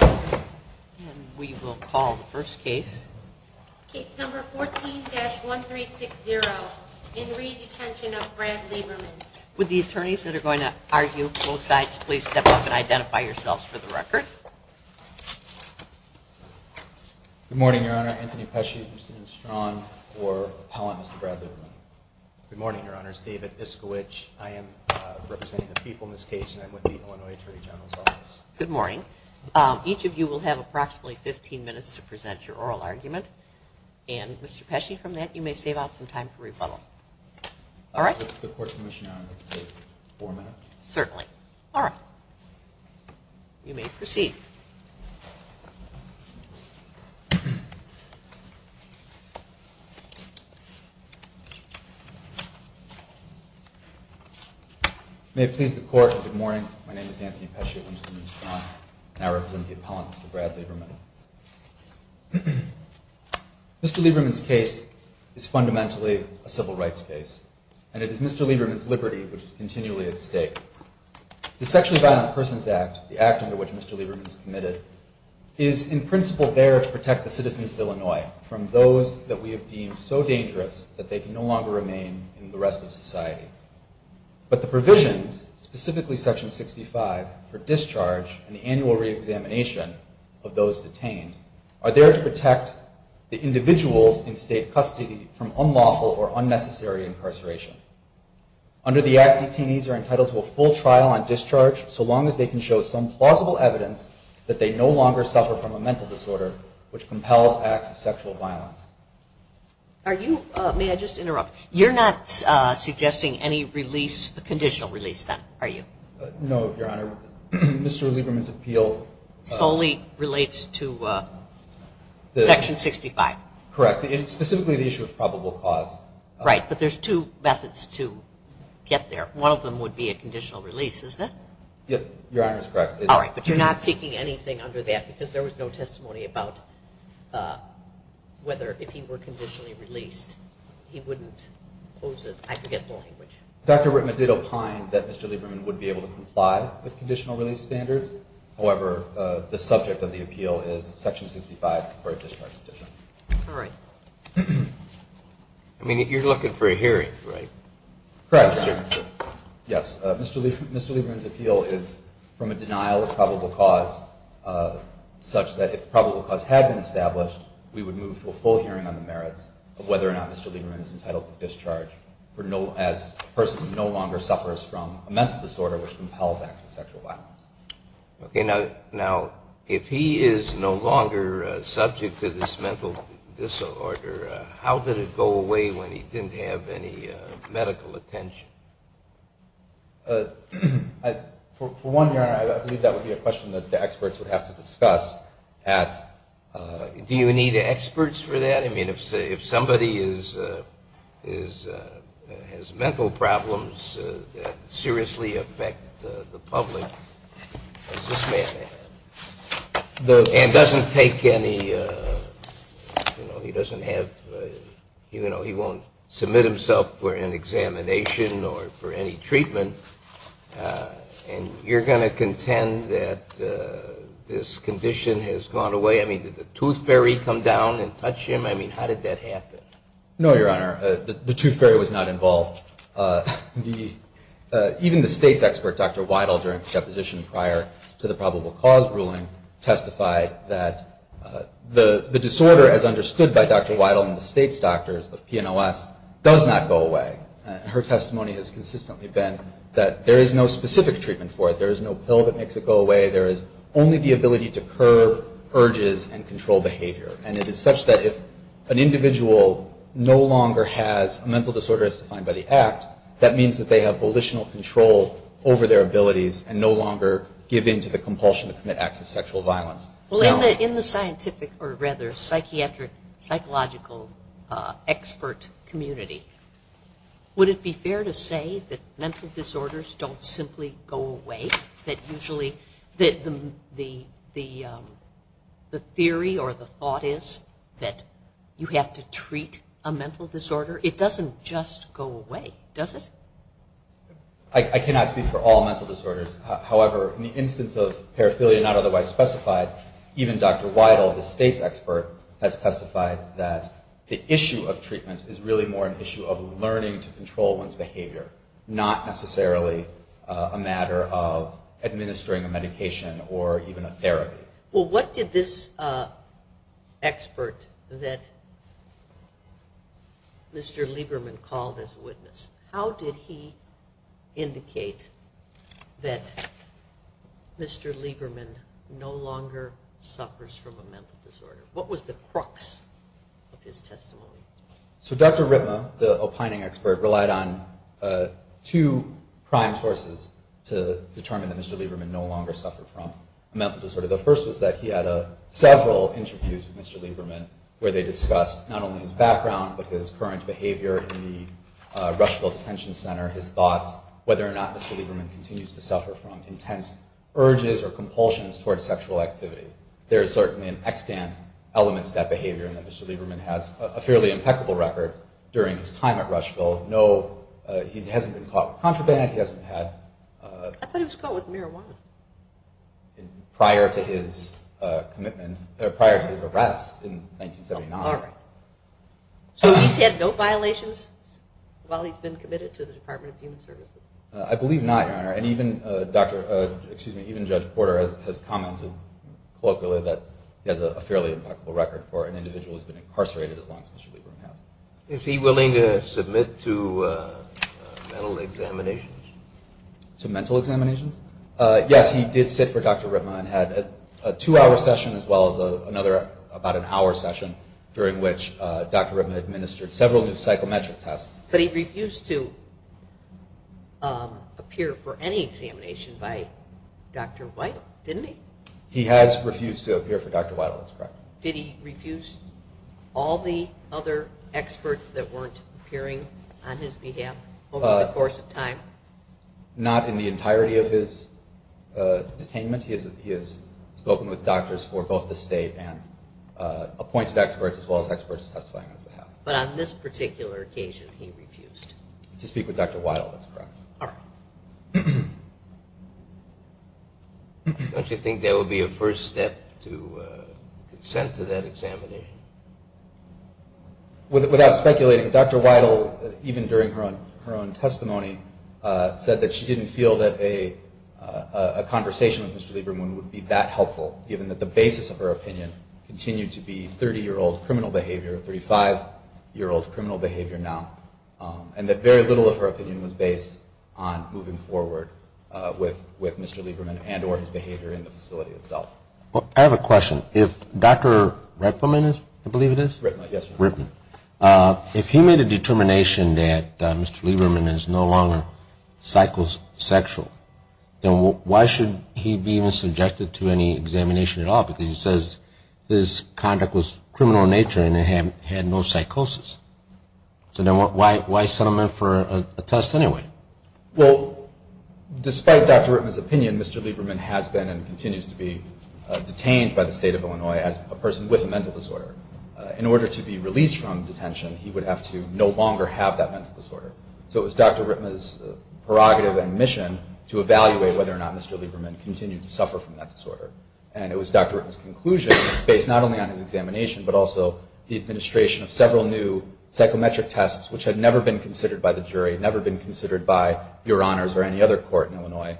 And we will call the first case. Case number 14-1360 in re Detention of Brad Lieberman. Would the attorneys that are going to argue both sides please step up and identify yourselves for the record? Good morning, Your Honor. Anthony Pesci, Houston and Strachan for Appellant Mr. Brad Lieberman. Good morning, Your Honors. David Iskowich. I am representing the people in this case and I'm with the Illinois Attorney General's Office. Good morning. Each of you will have approximately 15 minutes to present your oral argument. And Mr. Pesci, from that you may save out some time for rebuttal. All right. The Court's Commission, Your Honor, will save four minutes? Certainly. All right. You may proceed. May it please the Court, good morning. My name is Anthony Pesci of Houston and Strachan and I represent the appellant, Mr. Brad Lieberman. Mr. Lieberman's case is fundamentally a civil rights case and it is Mr. Lieberman's liberty which is continually at stake. The Sexually Violent Persons Act, the act under which Mr. Lieberman is committed, is in principle there to protect the citizens of Illinois from those that we have deemed so dangerous that they can no longer remain in the rest of society. But the provisions, specifically Section 65 for discharge and the annual reexamination of those detained, are there to protect the individuals in state custody from unlawful or unnecessary incarceration. Under the act, detainees are entitled to a full trial on discharge so long as they can show some plausible evidence that they no longer suffer from a mental disorder which compels acts of sexual violence. Are you, may I just interrupt, you're not suggesting any release, a conditional release then, are you? No, Your Honor. Mr. Lieberman's appeal solely relates to Section 65. Correct. Specifically the issue of probable cause. Right, but there's two methods to get there. One of them would be a conditional release, isn't it? Yep, Your Honor is correct. All right, but you're not seeking anything under that because there was no testimony about whether or not there would be a conditional release. But if he were conditionally released, he wouldn't pose as, I forget the language. Dr. Ritman did opine that Mr. Lieberman would be able to comply with conditional release standards. However, the subject of the appeal is Section 65 for a discharge petition. All right. I mean, you're looking for a hearing, right? Correct, Your Honor. Yes, Mr. Lieberman's appeal is from a denial of probable cause such that if probable cause had been established, we would move to a full hearing. Okay. Now, if he is no longer subject to this mental disorder, how did it go away when he didn't have any medical attention? For one, Your Honor, I believe that would be a question that the experts would have to discuss at… Do you need experts for that? I mean, if he's no longer subject to this mental disorder, how did it go away when he didn't have any medical attention? I mean, if somebody has mental problems that seriously affect the public and doesn't take any, you know, he doesn't have, you know, he won't submit himself for an examination or for any treatment, and you're going to contend that this condition has gone away? I mean, did the tooth fairy come down and touch him? I mean, how did that happen? No, Your Honor. The tooth fairy was not involved. Even the State's expert, Dr. Weidel, during the deposition prior to the probable cause ruling testified that the disorder, as understood by Dr. Weidel and the State's doctors of PNOS, does not go away. Her testimony has consistently been that there is no specific treatment for it. There is no pill that makes it go away. There is only the ability to curb urges. And it is such that if an individual no longer has a mental disorder as defined by the Act, that means that they have volitional control over their abilities and no longer give in to the compulsion to commit acts of sexual violence. Well, in the scientific, or rather, psychiatric, psychological expert community, would it be fair to say that mental disorders don't simply go away? That usually the theory or the thought is that you have to treat a mental disorder? It doesn't just go away, does it? I cannot speak for all mental disorders. However, in the instance of paraphilia not otherwise specified, even Dr. Weidel, the State's expert, has testified that the issue of treatment is really more an issue of learning to control one's behavior, not necessarily a matter of administering a medication or even a therapy. Well, what did this expert that Mr. Lieberman called as a witness, how did he indicate that Mr. Lieberman no longer suffers from a mental disorder? What was the crux of his testimony? So Dr. Ritma, the opining expert, relied on two prime sources to determine that Mr. Lieberman no longer suffered from a mental disorder. The first was that he had several interviews with Mr. Lieberman where they discussed not only his background, but his current behavior in the Rushfield Detention Center, his thoughts, whether or not Mr. Lieberman continues to suffer from intense urges or compulsions towards sexual activity. There is certainly an extant element to that behavior in that Mr. Lieberman has a fairly impeccable record during his time at Rushfield. No, he hasn't been caught with contraband, he hasn't had... I thought he was caught with marijuana. Prior to his arrest in 1979. So he's had no violations while he's been committed to the Department of Human Services? I believe not, Your Honor. And even Judge Porter has commented colloquially that he has a fairly impeccable record for an individual who's been incarcerated as long as Mr. Lieberman has. Is he willing to submit to mental examinations? To mental examinations? Yes, he did sit for Dr. Ritma and had a two-hour session as well as another about an hour session during which Dr. Ritma administered several new psychometric tests. But he refused to appear for any examination by Dr. Weidel, didn't he? He has refused to appear for Dr. Weidel, that's correct. Did he refuse all the other experts that weren't appearing on his behalf over the course of time? Not in the entirety of his detainment. He has spoken with doctors for both the state and appointed experts as well as experts testifying on his behalf. But on this particular occasion, he refused. To speak with Dr. Weidel, that's correct. Don't you think that would be a first step to consent to that examination? Without speculating, Dr. Weidel, even during her own testimony, said that she didn't feel that a conversation with Mr. Lieberman would be that helpful, given that the basis of her opinion continued to be 30-year-old criminal behavior, 35-year-old criminal behavior now, and that very little of her opinion was based on moving forward with Mr. Lieberman and or his behavior in the facility itself. I have a question. If Dr. Ritma, I believe it is? Ritma, yes. If he made a determination that Mr. Lieberman is no longer psychosexual, then why should he be subjected to any examination at all? Because he says his conduct was criminal in nature and he had no psychosis. So then why send him in for a test anyway? Well, despite Dr. Ritma's opinion, Mr. Lieberman has been and continues to be detained by the state of Illinois as a person with a mental disorder. In order to be released from detention, he would have to no longer have that mental disorder. So it was Dr. Ritma's prerogative and mission to evaluate whether or not Mr. Lieberman continued to suffer from that disorder. And it was Dr. Ritma's conclusion, based not only on his examination, but also the administration of several new psychometric tests, which had never been considered by the jury, never been considered by Your Honors or any other court in Illinois.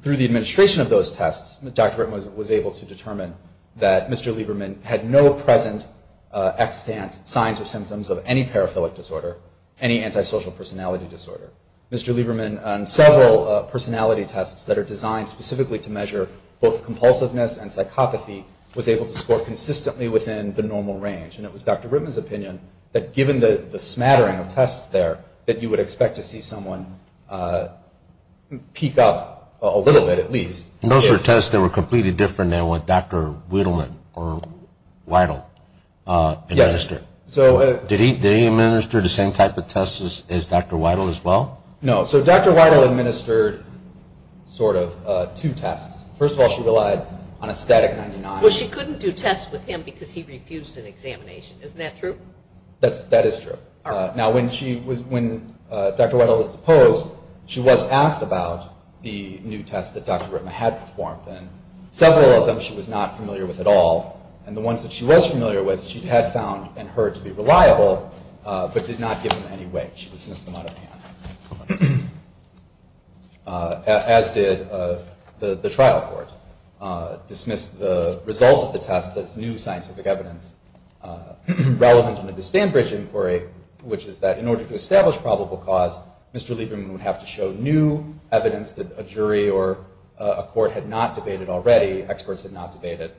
Through the administration of those tests, Dr. Ritma was able to determine that Mr. Lieberman had no present extant signs or symptoms of any paraphilic disorder, any antisocial personality disorder. Mr. Lieberman, on several personality tests that are designed specifically to measure both compulsiveness and psychopathy, was able to score consistently within the normal range. And it was Dr. Ritma's opinion that given the smattering of tests there, that you would expect to see someone peak up a little bit at least. And those were tests that were completely different than what Dr. Wiedel administered. Yes. Did he administer the same type of tests as Dr. Wiedel as well? No. So Dr. Wiedel administered sort of two tests. First of all, she relied on a static 99. Well, she couldn't do tests with him because he refused an examination. Isn't that true? That is true. All right. Now, when Dr. Wiedel was deposed, she was asked about the new tests that Dr. Ritma had performed. And several of them she was not familiar with at all. And the ones that she was familiar with, she had found in her to be reliable, but did not give them any weight. She dismissed them out of hand. As did the trial court. Dismissed the results of the tests as new scientific evidence relevant to the Disband Bridge Inquiry, which is that in order to establish probable cause, Mr. Lieberman would have to show new evidence that a jury or a court had not debated already, experts had not debated.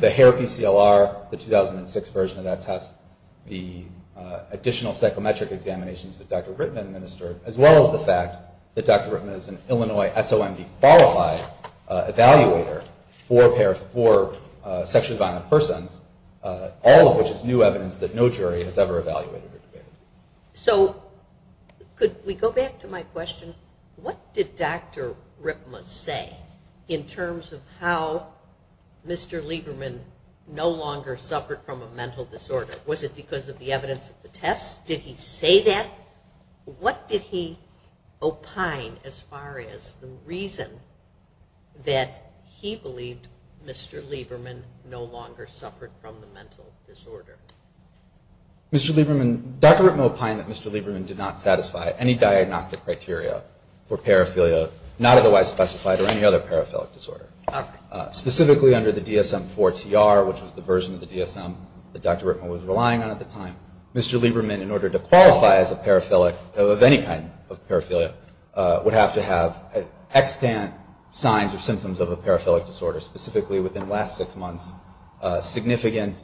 The hair PCLR, the 2006 version of that test, the additional psychometric examinations that Dr. Ritma administered, as well as the fact that Dr. Ritma is an Illinois SOMD qualified evaluator for sexually violent persons, all of which is new evidence that no jury has ever evaluated or debated. So could we go back to my question? What did Dr. Ritma say in terms of how Mr. Lieberman no longer suffered from a mental disorder? Was it because of the evidence of the tests? Did he say that? What did he opine as far as the reason that he believed Mr. Lieberman no longer suffered from the mental disorder? Mr. Lieberman, Dr. Ritma opined that Mr. Lieberman did not satisfy any diagnostic criteria for paraphilia, not otherwise specified or any other paraphilic disorder. Specifically under the DSM-IV-TR, which was the version of the DSM that Dr. Ritma was relying on at the time, Mr. Lieberman, in order to qualify as a paraphilic of any kind of paraphilia, would have to have extant signs or symptoms of a paraphilic disorder, specifically within the last six months, significant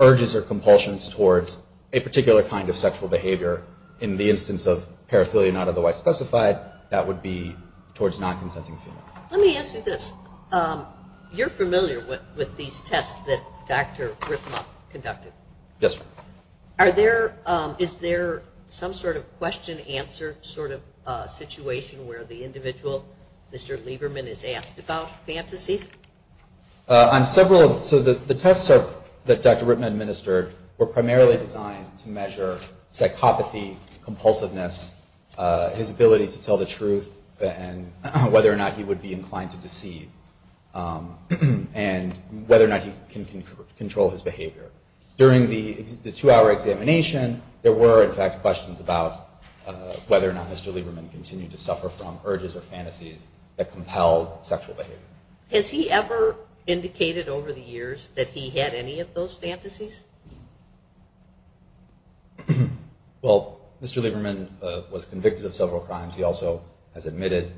urges or compulsions towards a particular kind of sexual behavior. In the instance of paraphilia not otherwise specified, that would be towards non-consenting females. Let me ask you this. You're familiar with these tests that Dr. Ritma conducted. Yes, ma'am. Is there some sort of question-answer sort of situation where the individual, Mr. Lieberman, is asked about fantasies? On several of them. So the tests that Dr. Ritma administered were primarily designed to measure psychopathy, compulsiveness, his ability to tell the truth, and whether or not he would be inclined to deceive, and whether or not he can control his behavior. During the two-hour examination, there were, in fact, questions about whether or not Mr. Lieberman continued to suffer from urges or fantasies that compelled sexual behavior. Has he ever indicated over the years that he had any of those fantasies? Well, Mr. Lieberman was convicted of several crimes. He also has admitted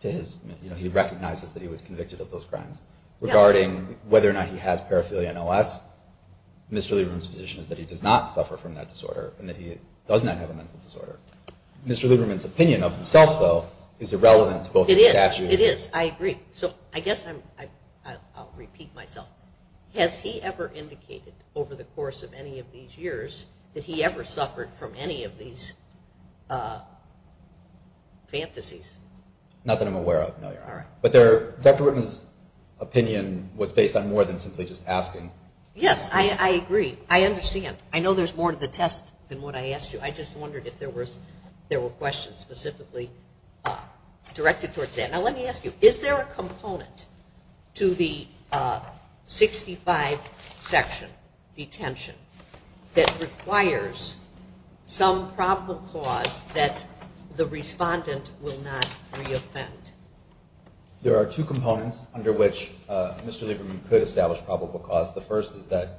to his, you know, he recognizes that he was convicted of those crimes. Regarding whether or not he has paraphilia and OS, Mr. Lieberman's position is that he does not suffer from that disorder and that he does not have a mental disorder. Mr. Lieberman's opinion of himself, though, is irrelevant to both his statute and his... It is. It is. I agree. So I guess I'll repeat myself. Has he ever indicated over the course of any of these years that he ever suffered from any of these fantasies? Not that I'm aware of, no, Your Honor. But Dr. Whitman's opinion was based on more than simply just asking. Yes, I agree. I understand. I know there's more to the test than what I asked you. I just wondered if there were questions specifically directed towards that. Now let me ask you, is there a component to the 65 section detention that requires some probable cause that the respondent will not re-offend? There are two components under which Mr. Lieberman could establish probable cause. The first is that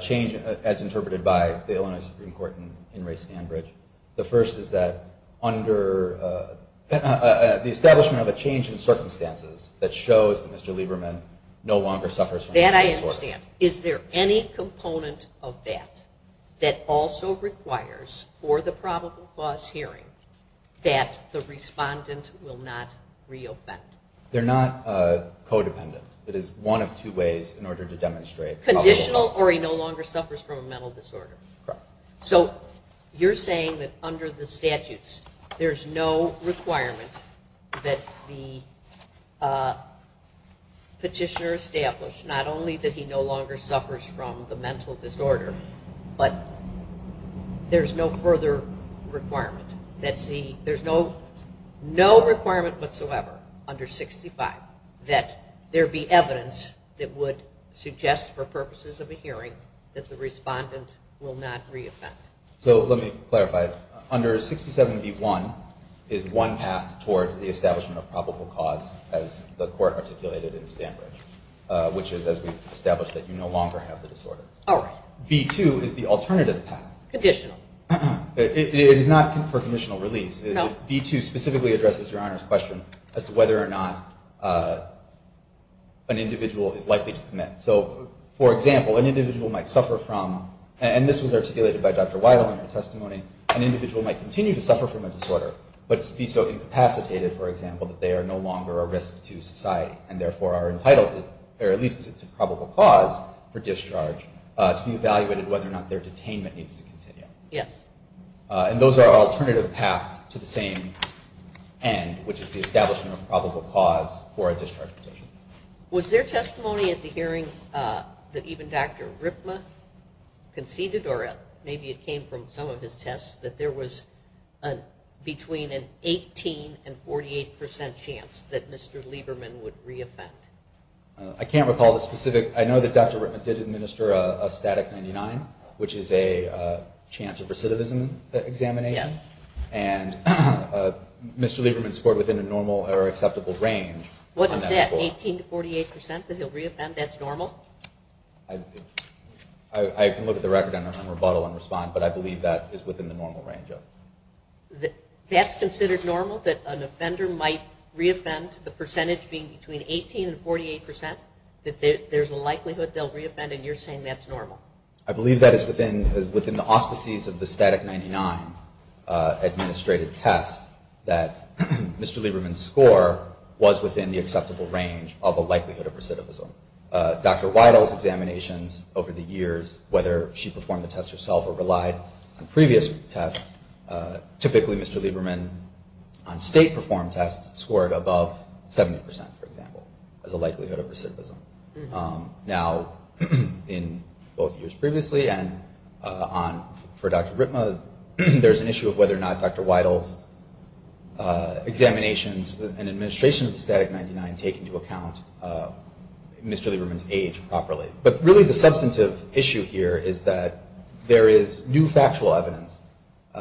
change, as interpreted by the Illinois Supreme Court in Ray Stanbridge, the establishment of a change in circumstances that shows that Mr. Lieberman no longer suffers from a mental disorder. That I understand. Is there any component of that that also requires for the probable cause hearing that the respondent will not re-offend? They're not codependent. It is one of two ways in order to demonstrate probable cause. Conditional or he no longer suffers from a mental disorder. Correct. So you're saying that under the statutes there's no requirement that the petitioner establish, not only that he no longer suffers from the mental disorder, but there's no further requirement. There's no requirement whatsoever under 65 that there be evidence that would suggest for purposes of a hearing that the respondent will not re-offend. So let me clarify. Under 67B1 is one path towards the establishment of probable cause as the court articulated in Stanbridge, which is as we've established that you no longer have the disorder. All right. B2 is the alternative path. Conditional. It is not for conditional release. No. For example, an individual might suffer from, and this was articulated by Dr. Weidel in her testimony, an individual might continue to suffer from a disorder but be so incapacitated, for example, that they are no longer a risk to society and therefore are entitled to, or at least to probable cause for discharge, to be evaluated whether or not their detainment needs to continue. Yes. And those are alternative paths to the same end, which is the establishment of probable cause for a discharge petition. Was there testimony at the hearing that even Dr. Ripma conceded, or maybe it came from some of his tests, that there was between an 18% and 48% chance that Mr. Lieberman would re-offend? I can't recall the specific. I know that Dr. Ripma did administer a static 99, which is a chance of recidivism examination. Yes. And Mr. Lieberman scored within a normal or acceptable range on that score. What is that, 18% to 48% that he'll re-offend, that's normal? I can look at the record and rebuttal and respond, but I believe that is within the normal range, yes. That's considered normal, that an offender might re-offend, the percentage being between 18% and 48%, that there's a likelihood they'll re-offend, and you're saying that's normal? I believe that is within the auspices of the static 99 administrative test, that Mr. Lieberman's score was within the acceptable range of a likelihood of recidivism. Dr. Weidel's examinations over the years, whether she performed the test herself or relied on previous tests, typically Mr. Lieberman on state-performed tests scored above 70%, for example, as a likelihood of recidivism. Now, in both years previously and for Dr. Ripma, there's an issue of whether or not Dr. Weidel's examinations and administration of the static 99 take into account Mr. Lieberman's age properly. But really the substantive issue here is that there is new factual evidence,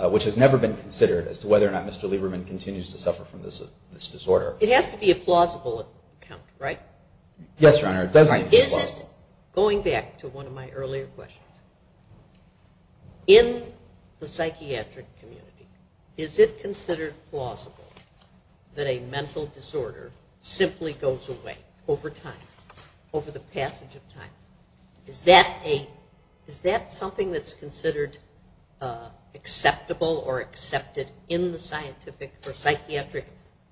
which has never been considered, as to whether or not Mr. Lieberman continues to suffer from this disorder. It has to be a plausible account, right? Going back to one of my earlier questions, in the psychiatric community, is it considered plausible that a mental disorder simply goes away over time, over the passage of time? Is that something that's considered acceptable or accepted in the psychiatric,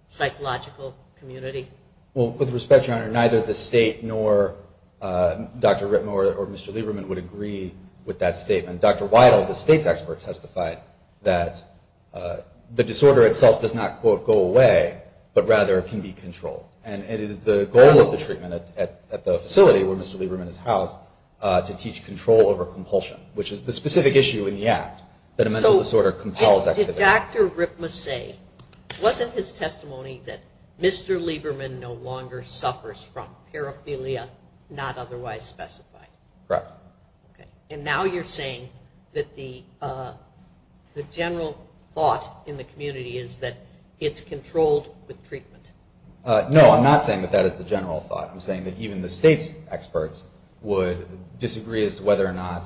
psychological community? Well, with respect, Your Honor, neither the state nor Dr. Ripma or Mr. Lieberman would agree with that statement. Dr. Weidel, the state's expert, testified that the disorder itself does not, quote, go away, but rather can be controlled. And it is the goal of the treatment at the facility where Mr. Lieberman is housed to teach control over compulsion, which is the specific issue in the Act that a mental disorder compels activity. But did Dr. Ripma say, wasn't his testimony that Mr. Lieberman no longer suffers from paraphilia, not otherwise specified? Correct. And now you're saying that the general thought in the community is that it's controlled with treatment. No, I'm not saying that that is the general thought. I'm saying that even the state's experts would disagree as to whether or not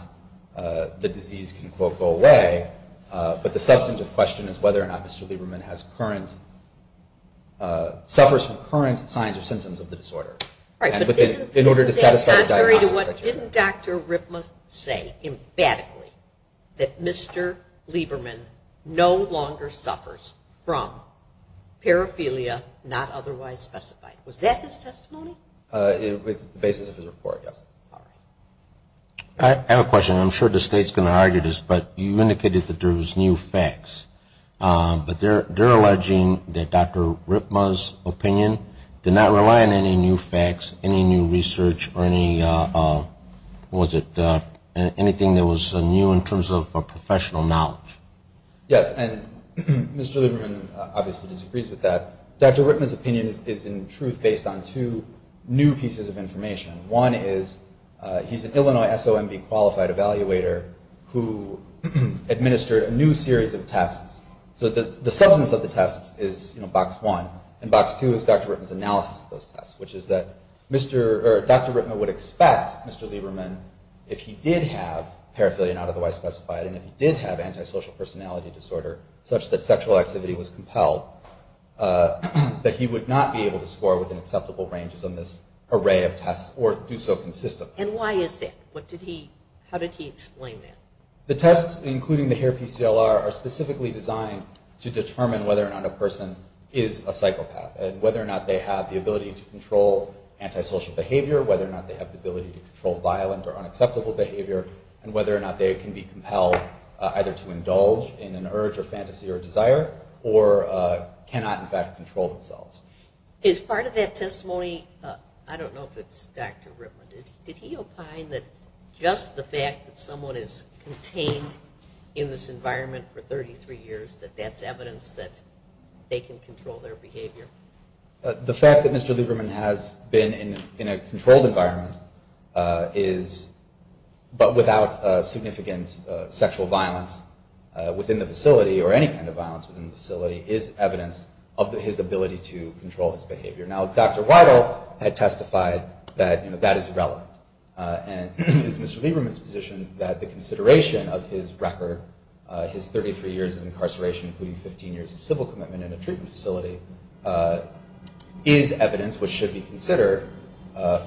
the disease can, quote, go away. But the substantive question is whether or not Mr. Lieberman has current, suffers from current signs or symptoms of the disorder. All right, but isn't that contrary to what didn't Dr. Ripma say, emphatically, that Mr. Lieberman no longer suffers from paraphilia, not otherwise specified? Was that his testimony? It's the basis of his report, yes. All right. I have a question. I'm sure the state's going to argue this, but you indicated that there was new facts. But they're alleging that Dr. Ripma's opinion did not rely on any new facts, any new research, or any, what was it, anything that was new in terms of professional knowledge. Yes, and Mr. Lieberman obviously disagrees with that. Dr. Ripma's opinion is, in truth, based on two new pieces of information. One is he's an Illinois SOMB qualified evaluator who administered a new series of tests. So the substance of the tests is box one, and box two is Dr. Ripma's analysis of those tests, which is that Dr. Ripma would expect Mr. Lieberman, if he did have paraphilia not otherwise specified and if he did have antisocial personality disorder such that sexual activity was compelled, that he would not be able to score within acceptable ranges on this array of tests or do so consistently. And why is that? How did he explain that? The tests, including the HAIR-PCLR, are specifically designed to determine whether or not a person is a psychopath and whether or not they have the ability to control antisocial behavior, whether or not they have the ability to control violent or unacceptable behavior, and whether or not they can be compelled either to indulge in an urge or fantasy or desire or cannot in fact control themselves. As part of that testimony, I don't know if it's Dr. Ripma, did he opine that just the fact that someone is contained in this environment for 33 years, that that's evidence that they can control their behavior? The fact that Mr. Lieberman has been in a controlled environment is, but without significant sexual violence within the facility or any kind of violence within the facility, is evidence of his ability to control his behavior. Now, Dr. Weidel had testified that that is relevant. And it's Mr. Lieberman's position that the consideration of his record, his 33 years of incarceration, including 15 years of civil commitment in a treatment facility, is evidence which should be considered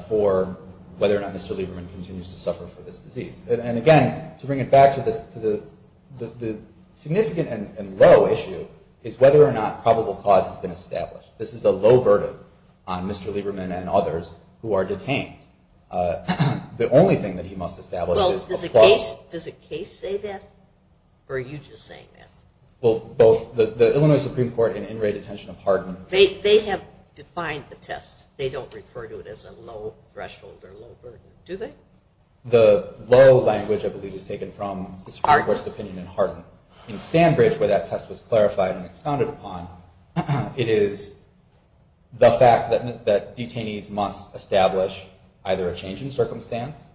for whether or not Mr. Lieberman continues to suffer from this disease. And again, to bring it back to the significant and low issue, is whether or not probable cause has been established. This is a low verdict on Mr. Lieberman and others who are detained. The only thing that he must establish is a clause. Does a case say that, or are you just saying that? Well, both the Illinois Supreme Court and in-rate detention of Hardin. They have defined the test. They don't refer to it as a low threshold or low verdict, do they? The low language, I believe, is taken from the Supreme Court's opinion in Hardin. In Stanbridge, where that test was clarified and expounded upon, it is the fact that detainees must establish either a change in circumstance,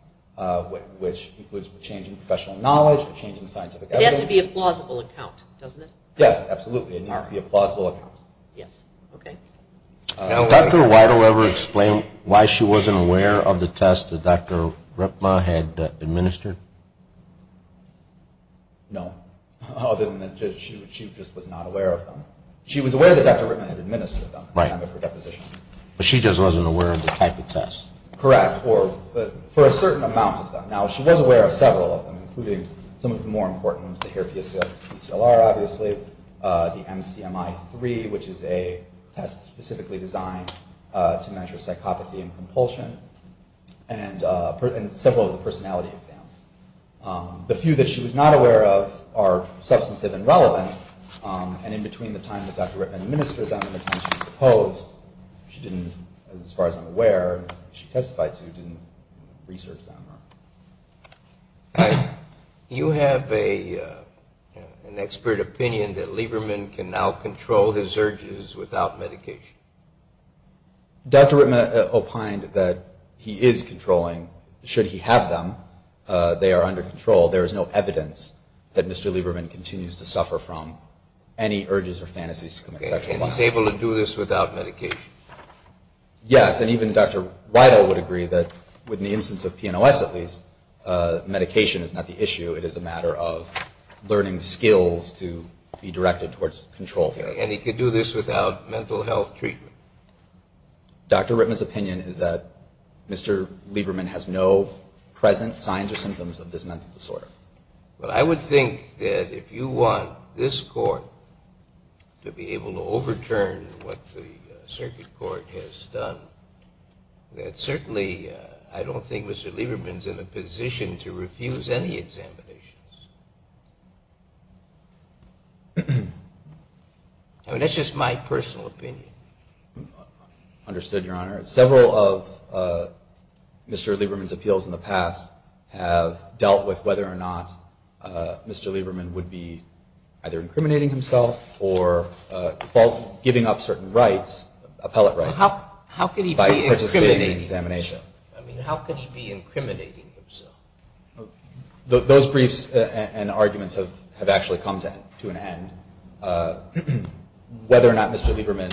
which includes a change in professional knowledge, a change in scientific evidence. It has to be a plausible account, doesn't it? Yes, absolutely. It needs to be a plausible account. Yes. Okay. Did Dr. Weidel ever explain why she wasn't aware of the test that Dr. Ripma had administered? No. She just was not aware of them. She was aware that Dr. Ripma had administered them at the time of her deposition. But she just wasn't aware of the type of test. Correct. For a certain amount of them. Now, she was aware of several of them, including some of the more important ones, the HEAR-PCLR, obviously, the MCMI-III, which is a test specifically designed to measure psychopathy and compulsion, and several of the personality exams. The few that she was not aware of are substantive and relevant, and in between the time that Dr. Ripma administered them and the time she was deposed, she didn't, as far as I'm aware, she testified to, didn't research them. Do you have an expert opinion that Lieberman can now control his urges without medication? Dr. Ripma opined that he is controlling. Should he have them, they are under control. There is no evidence that Mr. Lieberman continues to suffer from any urges or fantasies to commit sexual violence. He was able to do this without medication? Yes, and even Dr. Weidel would agree that, with the instance of PNOS at least, medication is not the issue. It is a matter of learning skills to be directed towards control therapy. And he could do this without mental health treatment? Dr. Ripma's opinion is that Mr. Lieberman has no present signs or symptoms of this mental disorder. Well, I would think that if you want this court to be able to overturn what the circuit court has done, that certainly I don't think Mr. Lieberman is in a position to refuse any examinations. I mean, that's just my personal opinion. Understood, Your Honor. Several of Mr. Lieberman's appeals in the past have dealt with whether or not Mr. Lieberman would be either incriminating himself or giving up certain rights, appellate rights, by participating in an examination. How could he be incriminating himself? I mean, how could he be incriminating himself? Those briefs and arguments have actually come to an end. Whether or not Mr. Lieberman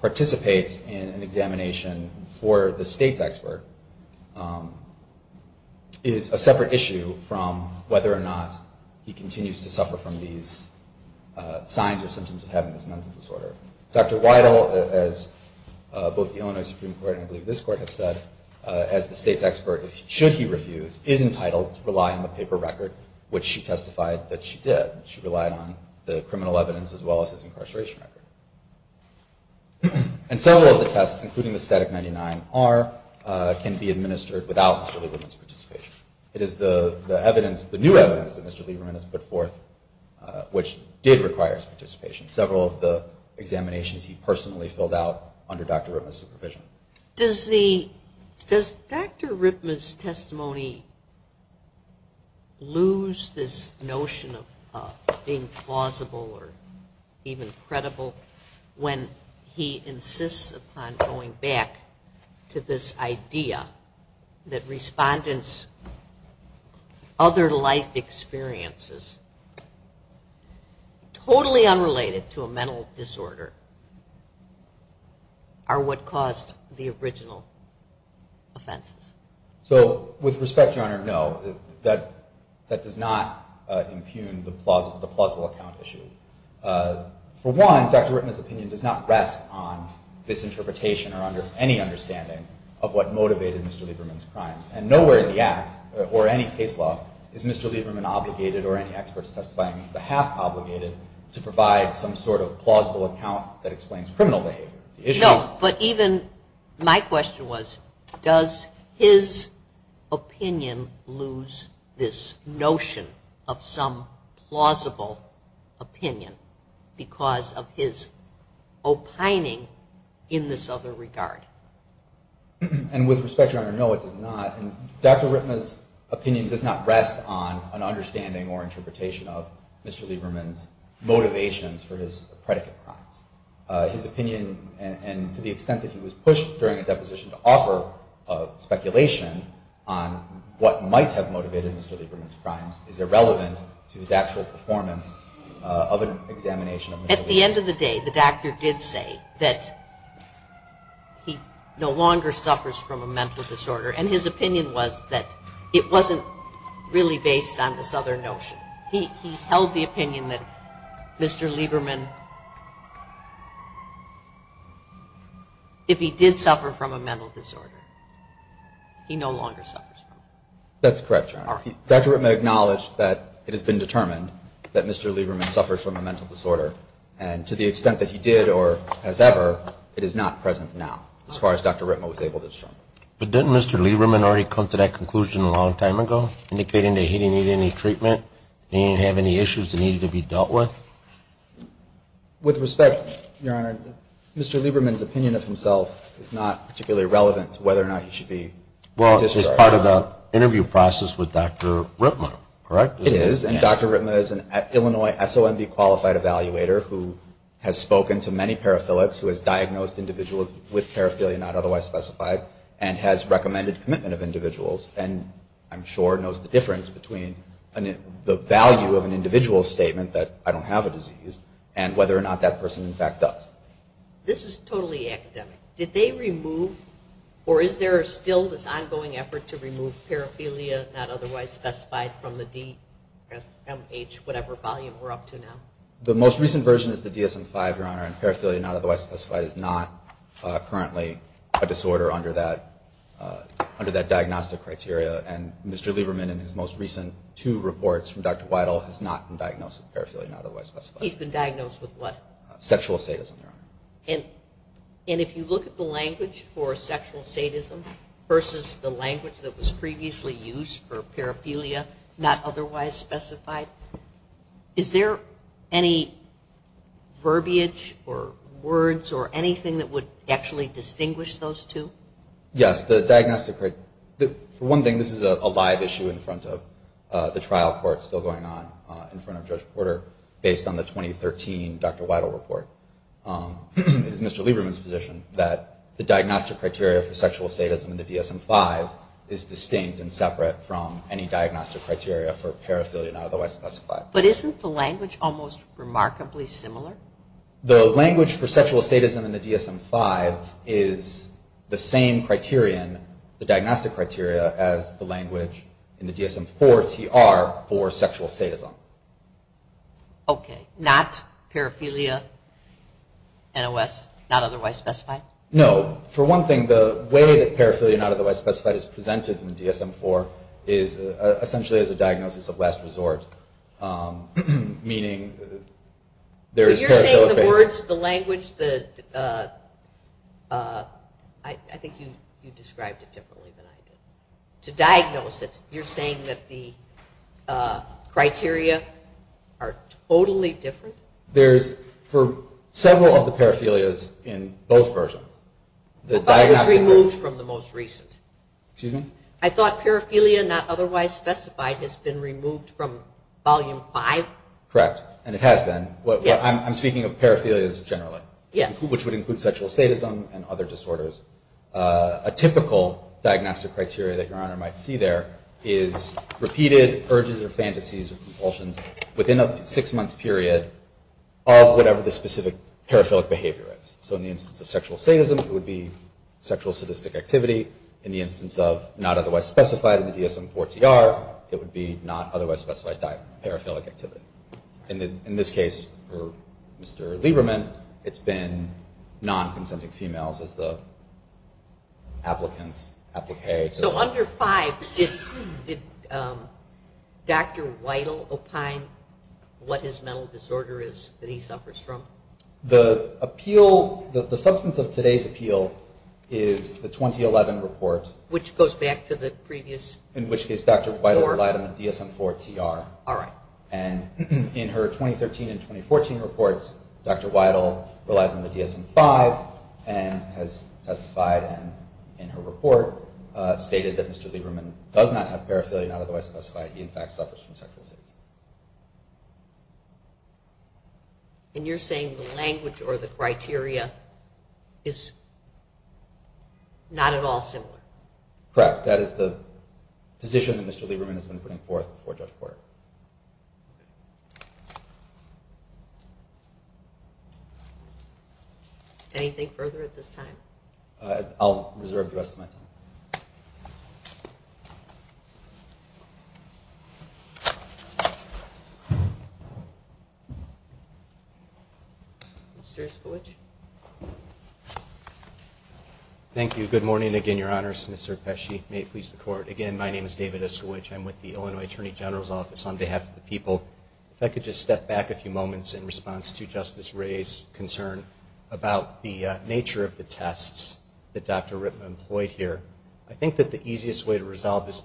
participates in an examination for the state's expert is a separate issue from whether or not he continues to suffer from these signs or symptoms of having this mental disorder. Dr. Weidel, as both the Illinois Supreme Court and I believe this court have said, as the state's expert, should he refuse, is entitled to rely on the paper record, which she testified that she did. She relied on the criminal evidence as well as his incarceration record. And several of the tests, including the static 99R, can be administered without Mr. Lieberman's participation. It is the evidence, the new evidence that Mr. Lieberman has put forth, which did require his participation. Several of the examinations he personally filled out under Dr. Ripma's supervision. Does Dr. Ripma's testimony lose this notion of being plausible or even credible when he insists upon going back to this idea that respondents' other life experiences, totally unrelated to a mental disorder, are what caused the original offenses? So with respect, Your Honor, no. That does not impugn the plausible account issue. For one, Dr. Ripma's opinion does not rest on this interpretation or any understanding of what motivated Mr. Lieberman's crimes. And nowhere in the Act or any case law is Mr. Lieberman obligated or any experts testifying the half obligated to provide some sort of plausible account that explains criminal behavior. No, but even, my question was, does his opinion lose this notion of some plausible opinion because of his opining in this other regard? And with respect, Your Honor, no it does not. Dr. Ripma's opinion does not rest on an understanding or interpretation of Mr. Lieberman's motivations for his predicate crimes. His opinion, and to the extent that he was pushed during a deposition to offer speculation on what might have motivated Mr. Lieberman's crimes, is irrelevant to his actual performance of an examination of mental disorders. At the end of the day, the doctor did say that he no longer suffers from a mental disorder. And his opinion was that it wasn't really based on this other notion. He held the opinion that Mr. Lieberman, if he did suffer from a mental disorder, he no longer suffers from it. That's correct, Your Honor. Dr. Ripma acknowledged that it has been determined that Mr. Lieberman suffers from a mental disorder. And to the extent that he did or has ever, it is not present now as far as Dr. Ripma was able to determine. But didn't Mr. Lieberman already come to that conclusion a long time ago, indicating that he didn't need any treatment? He didn't have any issues that needed to be dealt with? With respect, Your Honor, Mr. Lieberman's opinion of himself is not particularly relevant to whether or not he should be discharged. Well, it's part of the interview process with Dr. Ripma, correct? It is, and Dr. Ripma is an Illinois SOMB qualified evaluator who has spoken to many paraphilics, who has diagnosed individuals with paraphilia not otherwise specified, and has recommended commitment of individuals, and I'm sure knows the difference between the value of an individual's statement that I don't have a disease and whether or not that person in fact does. This is totally academic. Did they remove, or is there still this ongoing effort to remove paraphilia not otherwise specified from the D, S, M, H, whatever volume we're up to now? The most recent version is the DSM-5, Your Honor, and paraphilia not otherwise specified is not currently a disorder under that diagnostic criteria, and Mr. Lieberman in his most recent two reports from Dr. Weidel has not been diagnosed with paraphilia not otherwise specified, and if you look at the language for sexual sadism versus the language that was previously used for paraphilia not otherwise specified, is there any verbiage or words or anything that would actually distinguish those two? Yes, the diagnostic criteria. For one thing, this is a live issue in front of the trial court still going on in front of Judge Porter based on the 2013 Dr. Lieberman's position that the diagnostic criteria for sexual sadism in the DSM-5 is distinct and separate from any diagnostic criteria for paraphilia not otherwise specified. But isn't the language almost remarkably similar? The language for sexual sadism in the DSM-5 is the same criterion, the diagnostic criteria, as the language in the DSM-4TR for sexual sadism. Okay, not paraphilia, NOS, not otherwise specified? No. For one thing, the way that paraphilia not otherwise specified is presented in the DSM-4 is essentially as a diagnosis of last resort, meaning there is paraphilia. So you're saying the words, the language, I think you described it differently than I did. To diagnose it, you're saying that the criteria are totally different? There's for several of the paraphilias in both versions. But it was removed from the most recent. I thought paraphilia not otherwise specified has been removed from volume 5? Correct, and it has been. I'm speaking of paraphilias generally, which would include sexual sadism and other disorders. A typical diagnostic criteria that Your Honor might see there is repeated urges or fantasies or compulsions within a six-month period of whatever the specific paraphilic behavior is. So in the instance of sexual sadism, it would be sexual sadistic activity. In the instance of not otherwise specified in the DSM-4TR, it would be not otherwise specified paraphilic activity. In this case, for Mr. Lieberman, it's been non-consenting females as the paraphilic activity. So under 5, did Dr. Weidel opine what his mental disorder is that he suffers from? The substance of today's appeal is the 2011 report. Which goes back to the previous form? In which case, Dr. Weidel relied on the DSM-4TR. And in her 2013 and 2014 reports, Dr. Weidel relies on the DSM-5 and has testified in her report, stated that Mr. Lieberman does not have paraphilia not otherwise specified. He, in fact, suffers from sexual sadism. And you're saying the language or the criteria is not at all similar? Correct. That is the position that Mr. Lieberman has been putting forth before Judge Porter. Anything further at this time? I'll reserve the rest of my time. Mr. Iskowich? Thank you. Good morning again, Your Honors. Mr. Pesci, may it please the Court. Again, my name is David Iskowich. I'm with the Illinois Attorney General's Office on behalf of the people. If I could just step back a few moments in response to Justice Wray's concern about the nature of the tests that Dr. Ritma employed here. I think that the easiest way to resolve this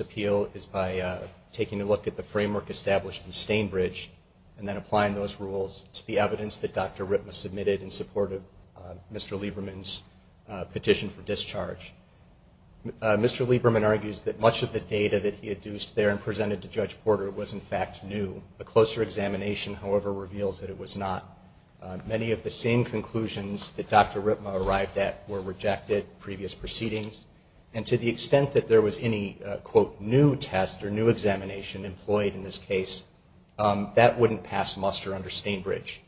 appeal is by taking a look at the framework established in Stainbridge and then applying those rules to the evidence that Dr. Ritma submitted in support of Mr. Lieberman's petition for discharge. Mr. Lieberman argues that much of the data that he had used there and presented to Judge Porter was, in fact, new. A closer examination, however, reveals that it was not. Many of the same conclusions that Dr. Ritma arrived at were rejected in previous proceedings. And to the extent that there was any, quote, new test or new examination employed in this case, that wouldn't pass muster under Stainbridge.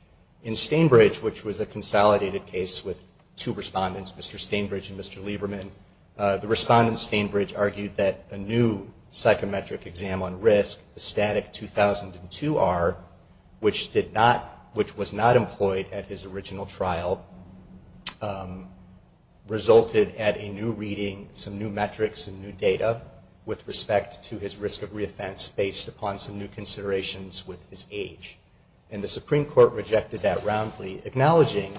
In Stainbridge, which was a consolidated case with two respondents, Mr. Stainbridge and Mr. Lieberman, the respondent, Stainbridge, argued that a new psychometric exam on risk, the static 2002-R, which did not, which was not employed at his original trial, resulted at a new reading, some new metrics and new data with respect to his risk of reoffense based upon some new considerations with his age. And the Supreme Court rejected that roundly, acknowledging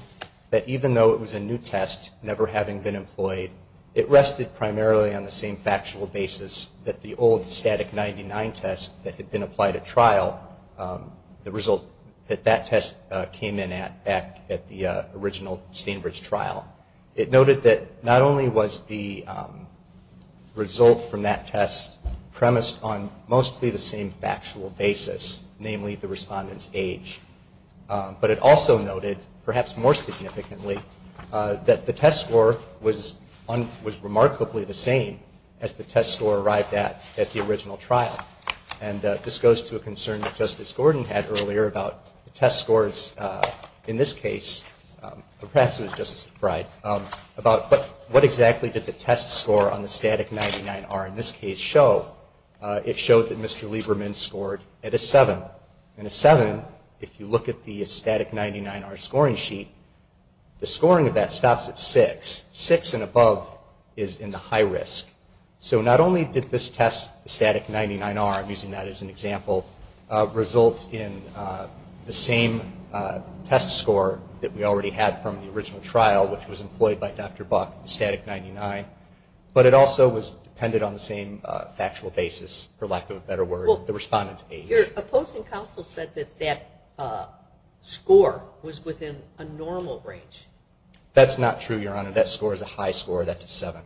that even though it was a new test, never having been employed, it rested primarily on the same factual basis that the old static-99 test that had been applied at trial, the result that that test came from. It noted that not only was the result from that test premised on mostly the same factual basis, namely the respondent's age, but it also noted, perhaps more significantly, that the test score was remarkably the same as the test score arrived at at the original trial. And this goes to a concern that Justice Gordon had earlier about the test scores. In this case, perhaps it was Justice McBride, about what exactly did the test score on the static-99-R in this case show? It showed that Mr. Lieberman scored at a 7. And a 7, if you look at the static-99-R scoring sheet, the scoring of that stops at 6. 6 and above is in the high risk. So not only did this test, the static-99-R, I'm using that as an example, result in the same test score that we already had from the original trial, which was employed by Dr. Buck, the static-99, but it also was dependent on the same factual basis, for lack of a better word, the respondent's age. Your opposing counsel said that that score was within a normal range. That's not true, Your Honor. That score is a high score. That's a 7.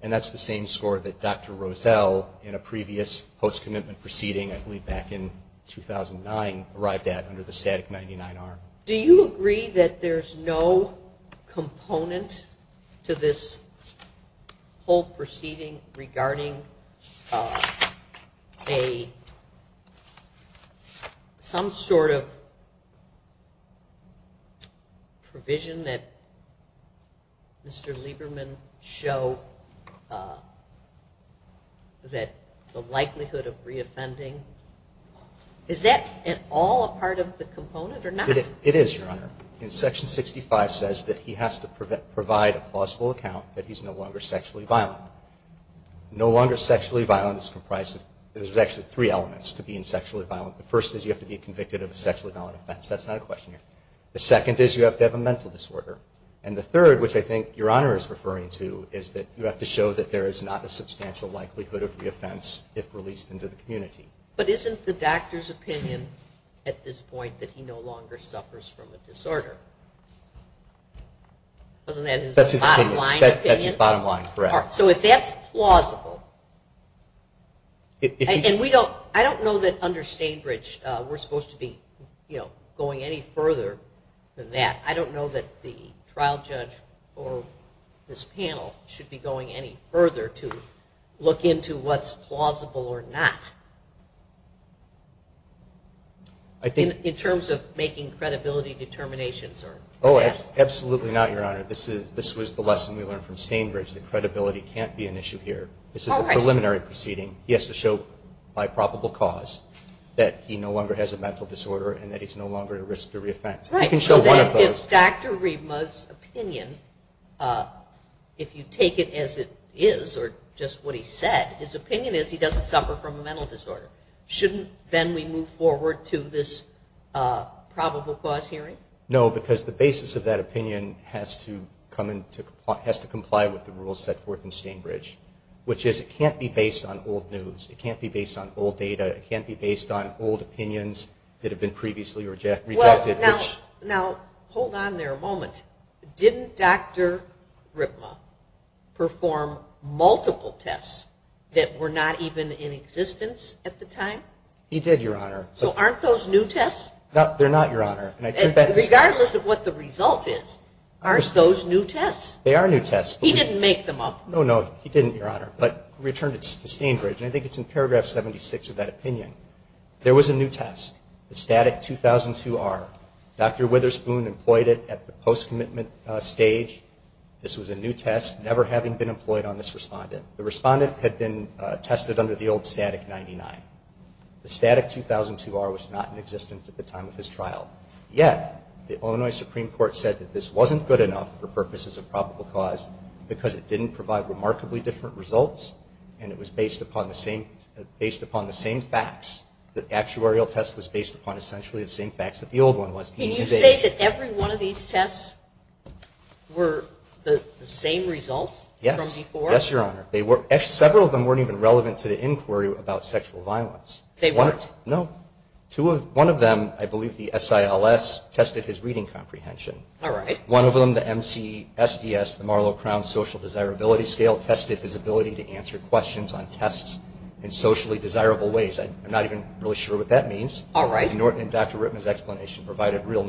And that's the same score that Dr. Rosell, in a case like this, had under the static-99-R. Do you agree that there's no component to this whole proceeding regarding some sort of provision that Mr. Lieberman showed that the defendant was sexually violent? It is, Your Honor. Section 65 says that he has to provide a plausible account that he's no longer sexually violent. No longer sexually violent is comprised of, there's actually three elements to being sexually violent. The first is you have to be convicted of a sexually violent offense. That's not a question here. The second is you have to have a mental disorder. And the third, which I think Your Honor is referring to, is that you have to show that there is not a substantial likelihood of reoffense if released into the community. But isn't the doctor's opinion at this point that he no longer suffers from a disorder? Isn't that his bottom line opinion? That's his bottom line, correct. I don't know that under Stainbridge we're supposed to be going any further than that. I don't know that the trial judge or this panel should be going any further to look into what's plausible or not. In terms of making credibility determinations. Absolutely not, Your Honor. This was the lesson we learned from Stainbridge that credibility can't be an issue here. This is a preliminary proceeding. He has to show by probable cause that he no longer has a mental disorder and that he's no longer at risk of reoffense. He can show one of those. If you take it as it is or just what he said, his opinion is he doesn't suffer from a mental disorder. Shouldn't then we move forward to this probable cause hearing? No, because the basis of that opinion has to comply with the rules set forth in Stainbridge, which is it can't be based on old news. It can't be based on old data. It can't be based on old opinions that have been previously rejected. Now, hold on there a moment. Didn't Dr. Ripma perform multiple tests that were not even in existence at the time? He did, Your Honor. So aren't those new tests? They're not, Your Honor. Regardless of what the result is, aren't those new tests? They are new tests. He didn't make them up. No, no, he didn't, Your Honor, but returned it to Stainbridge, and I think it's in paragraph 76 of that opinion. There was a new test, the STATIC-2002-R. Dr. Witherspoon employed it at the post-commitment stage. This was a new test, never having been employed on this respondent. The respondent had been tested under the old STATIC-99. The STATIC-2002-R was not in existence at the time of his trial, yet the STATIC-2002-R was not good enough for purposes of probable cause because it didn't provide remarkably different results, and it was based upon the same facts. The actuarial test was based upon essentially the same facts that the old one was. Can you say that every one of these tests were the same results from before? Yes, Your Honor. Several of them weren't even relevant to the inquiry about sexual violence. They weren't? No. One of them, I believe the SILS, tested his reading comprehension. One of them, the MCSDS, the Marlow-Crown Social Desirability Scale, tested his ability to answer questions on tests in socially desirable ways. I'm not even really sure what that means. Dr. Rittman's explanation provided real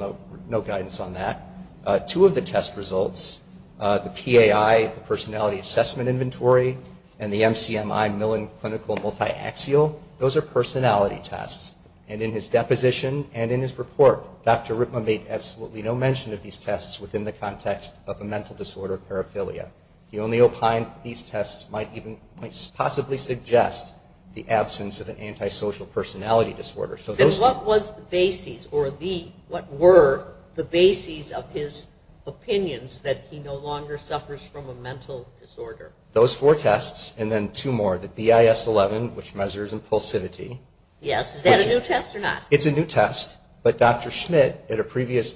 note guidance on that. Two of the test results, the PAI, the Personality Assessment Inventory, and the MCMI Millen Clinical Multiaxial, those are personality tests. And in his deposition and in his report, Dr. Rittman made absolutely no mention of these tests within the context of a mental disorder, paraphilia. He only opined that these tests might possibly suggest the absence of an antisocial personality disorder. And what was the basis, or what were the basis of his mental disorder? Those four tests, and then two more. The BIS-11, which measures impulsivity. Yes. Is that a new test or not? It's a new test, but Dr. Schmidt, at a previous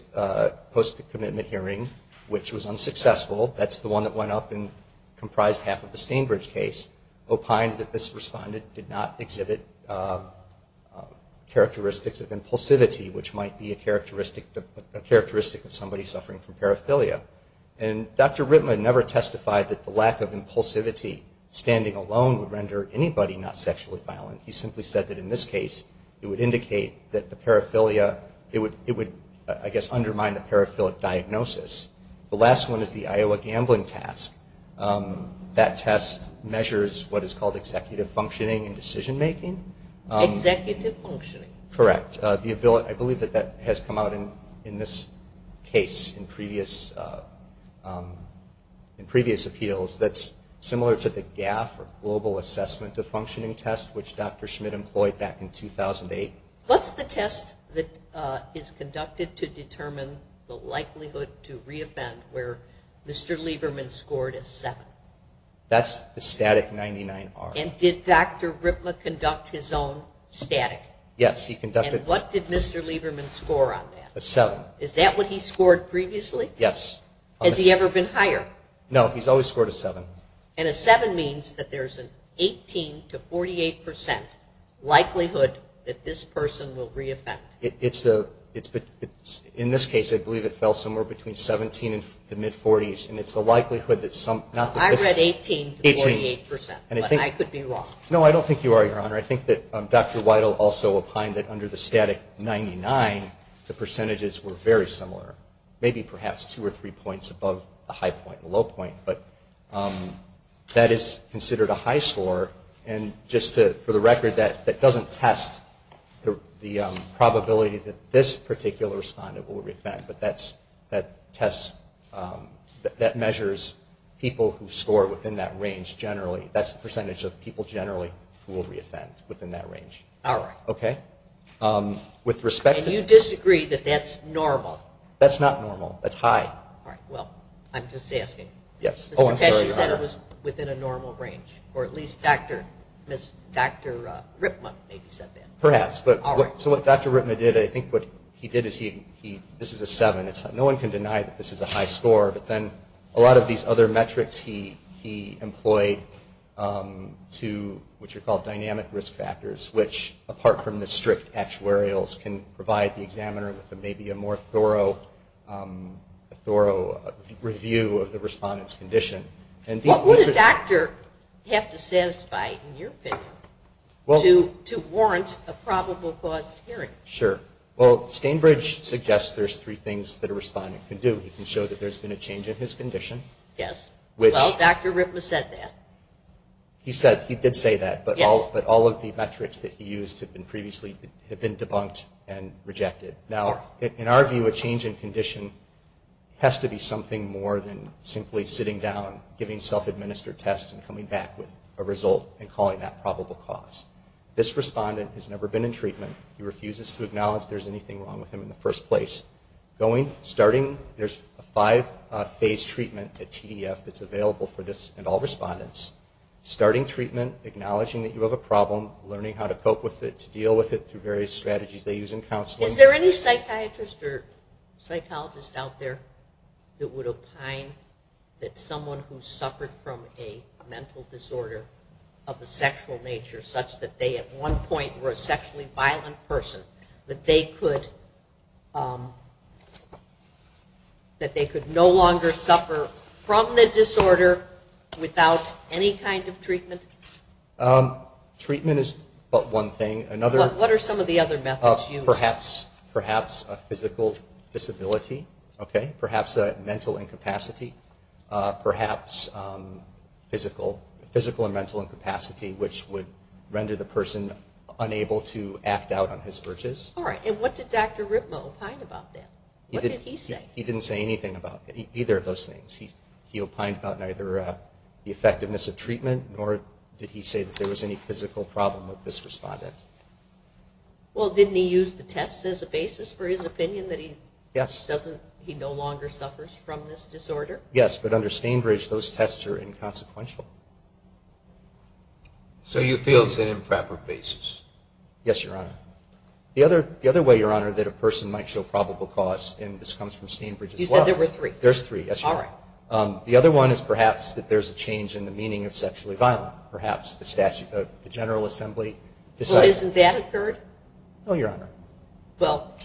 post-commitment hearing, which was unsuccessful, that's the one that went up and comprised half of the Stainbridge case, opined that this respondent did not exhibit characteristics of impulsivity, which might be a characteristic of somebody suffering from paraphilia. And Dr. Rittman never testified that the lack of impulsivity standing alone would render anybody not sexually violent. He simply said that in this case, it would indicate that the paraphilia, it would, I guess, undermine the paraphilic diagnosis. The last one is the Iowa Gambling Task. That test measures what is called executive functioning and decision making. Executive functioning, in this case, in previous appeals, that's similar to the GAF, or global assessment of functioning test, which Dr. Schmidt employed back in 2008. What's the test that is conducted to determine the likelihood to re-offend where Mr. Lieberman scored a 7? That's the static 99R. And did Dr. Rittman conduct his own static? Yes, he conducted. And what did Mr. Lieberman score on that? A 7. Is that what he scored previously? Yes. Has he ever been higher? No, he's always scored a 7. And a 7 means that there's an 18 to 48 percent likelihood that this person will re-offend. It's a, in this case, I believe it fell somewhere between 17 and the mid-40s, and it's a likelihood that some, I read 18 to 48 percent, but I could be wrong. No, I don't think you are, Your Honor. I think that Dr. Weidel also opined that under the static 99, the percentages were very similar. Maybe perhaps two or three points above the high point and the low point, but that is considered a high score, and just to, for the record, that doesn't test the probability that this particular respondent will re-offend, but that tests, that measures people who score within that range generally. That's the percentage of people generally who will re-offend within that range. All right. Okay. With respect to... And you disagree that that's normal? That's not normal. That's high. All right. Well, I'm just asking. Yes. Oh, I'm sorry, Your Honor. Because you said it was within a normal range, or at least Dr. Rittman maybe said that. Perhaps, but so what Dr. Rittman did, I think what he did is he, this is a seven. No one can deny that this is a high score, but then a lot of these other metrics he employed to, which are called dynamic risk factors, which apart from the strict actuarials can provide the examiner with maybe a more thorough review of the respondent's condition. What would a doctor have to satisfy, in your opinion, to warrant a probable cause hearing? Sure. Well, Stainbridge suggests there's three things that a respondent can do. He can show that there's been a change in his condition. Yes. Well, Dr. Rittman said that. He said, he did say that, but all of the metrics that he used had been previously, had been debunked and rejected. Now, in our view, a change in condition has to be something more than simply sitting down, giving self-administered tests and coming back with a result and calling that probable cause. This respondent has never been in treatment. He refuses to acknowledge there's anything wrong with him in the first place. Going, starting, there's a five-phase treatment at TDF that's available for this and all respondents. Starting treatment, acknowledging that you have a problem, learning how to cope with it, to deal with it through various strategies they use in counseling. Is there any psychiatrist or psychologist out there that would opine that someone who suffered from a mental disorder of a sexual nature, such that they at one point were a sexually violent person, that they could no longer suffer from the disorder without any kind of treatment? Treatment is but one thing. What are some of the other methods used? Perhaps a physical disability, perhaps a mental incapacity, perhaps physical and mental incapacity, which would render the person unable to act out on his urges. And what did Dr. Rittman opine about that? What did he say? He didn't say anything about either of those things. He opined about neither the effectiveness of treatment, nor did he say that there was any physical problem with this respondent. Well, didn't he use the tests as a basis for his opinion that he no longer suffers from this disorder? Yes, but under Stainbridge, those tests are inconsequential. So you feel it's an improper basis? Yes, Your Honor. The other way, Your Honor, that a person might show probable cause, and this comes from Stainbridge as well. You said there were three. There's three, yes, Your Honor. All right. The other one is perhaps that there's a change in the meaning of sexually violent. Perhaps the General Assembly decides Well, isn't that occurred? No, Your Honor. Well,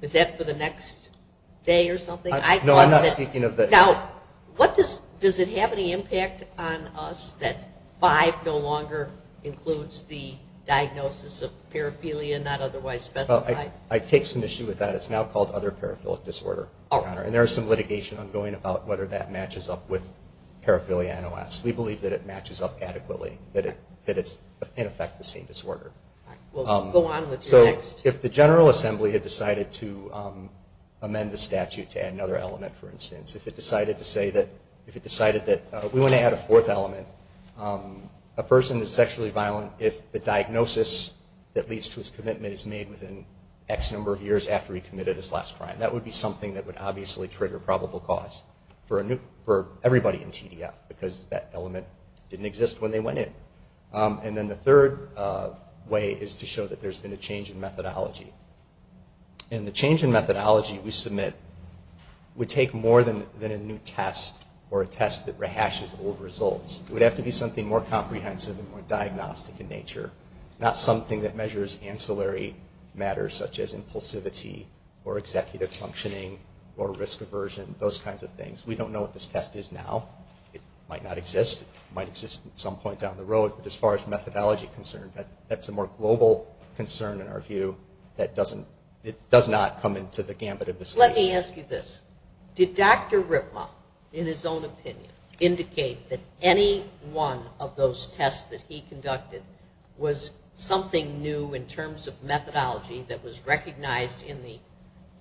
is that for the next day or something? No, I'm not speaking of that. Now, does it have any impact on us that five no longer includes the diagnosis of paraphilia not otherwise specified? Well, I take some issue with that. It's now called other paraphilic disorder, Your Honor, and there is some litigation ongoing about whether that matches up with paraphilia NOS. We believe that it matches up adequately, that it's in effect the same disorder. All right. Well, go on with your next. So if the General Assembly had decided to We want to add a fourth element. A person is sexually violent if the diagnosis that leads to his commitment is made within X number of years after he committed his last crime. That would be something that would obviously trigger probable cause for everybody in TDF because that element didn't exist when they went in. And then the third way is to show that there's been a change in methodology. And the change in methodology we submit would take more than a new test or a test that rehashes old results. It would have to be something more comprehensive and more diagnostic in nature. Not something that measures ancillary matters such as impulsivity or executive functioning or risk aversion, those kinds of things. We don't know what this test is now. It might not exist. It might exist at some point down the road. But as far as methodology is concerned, that's a more global concern in our view. It does not come into the gambit of this case. Let me ask you this. Did Dr. Ripma, in his own opinion, indicate that any one of those tests that he conducted was something new in terms of methodology that was recognized in the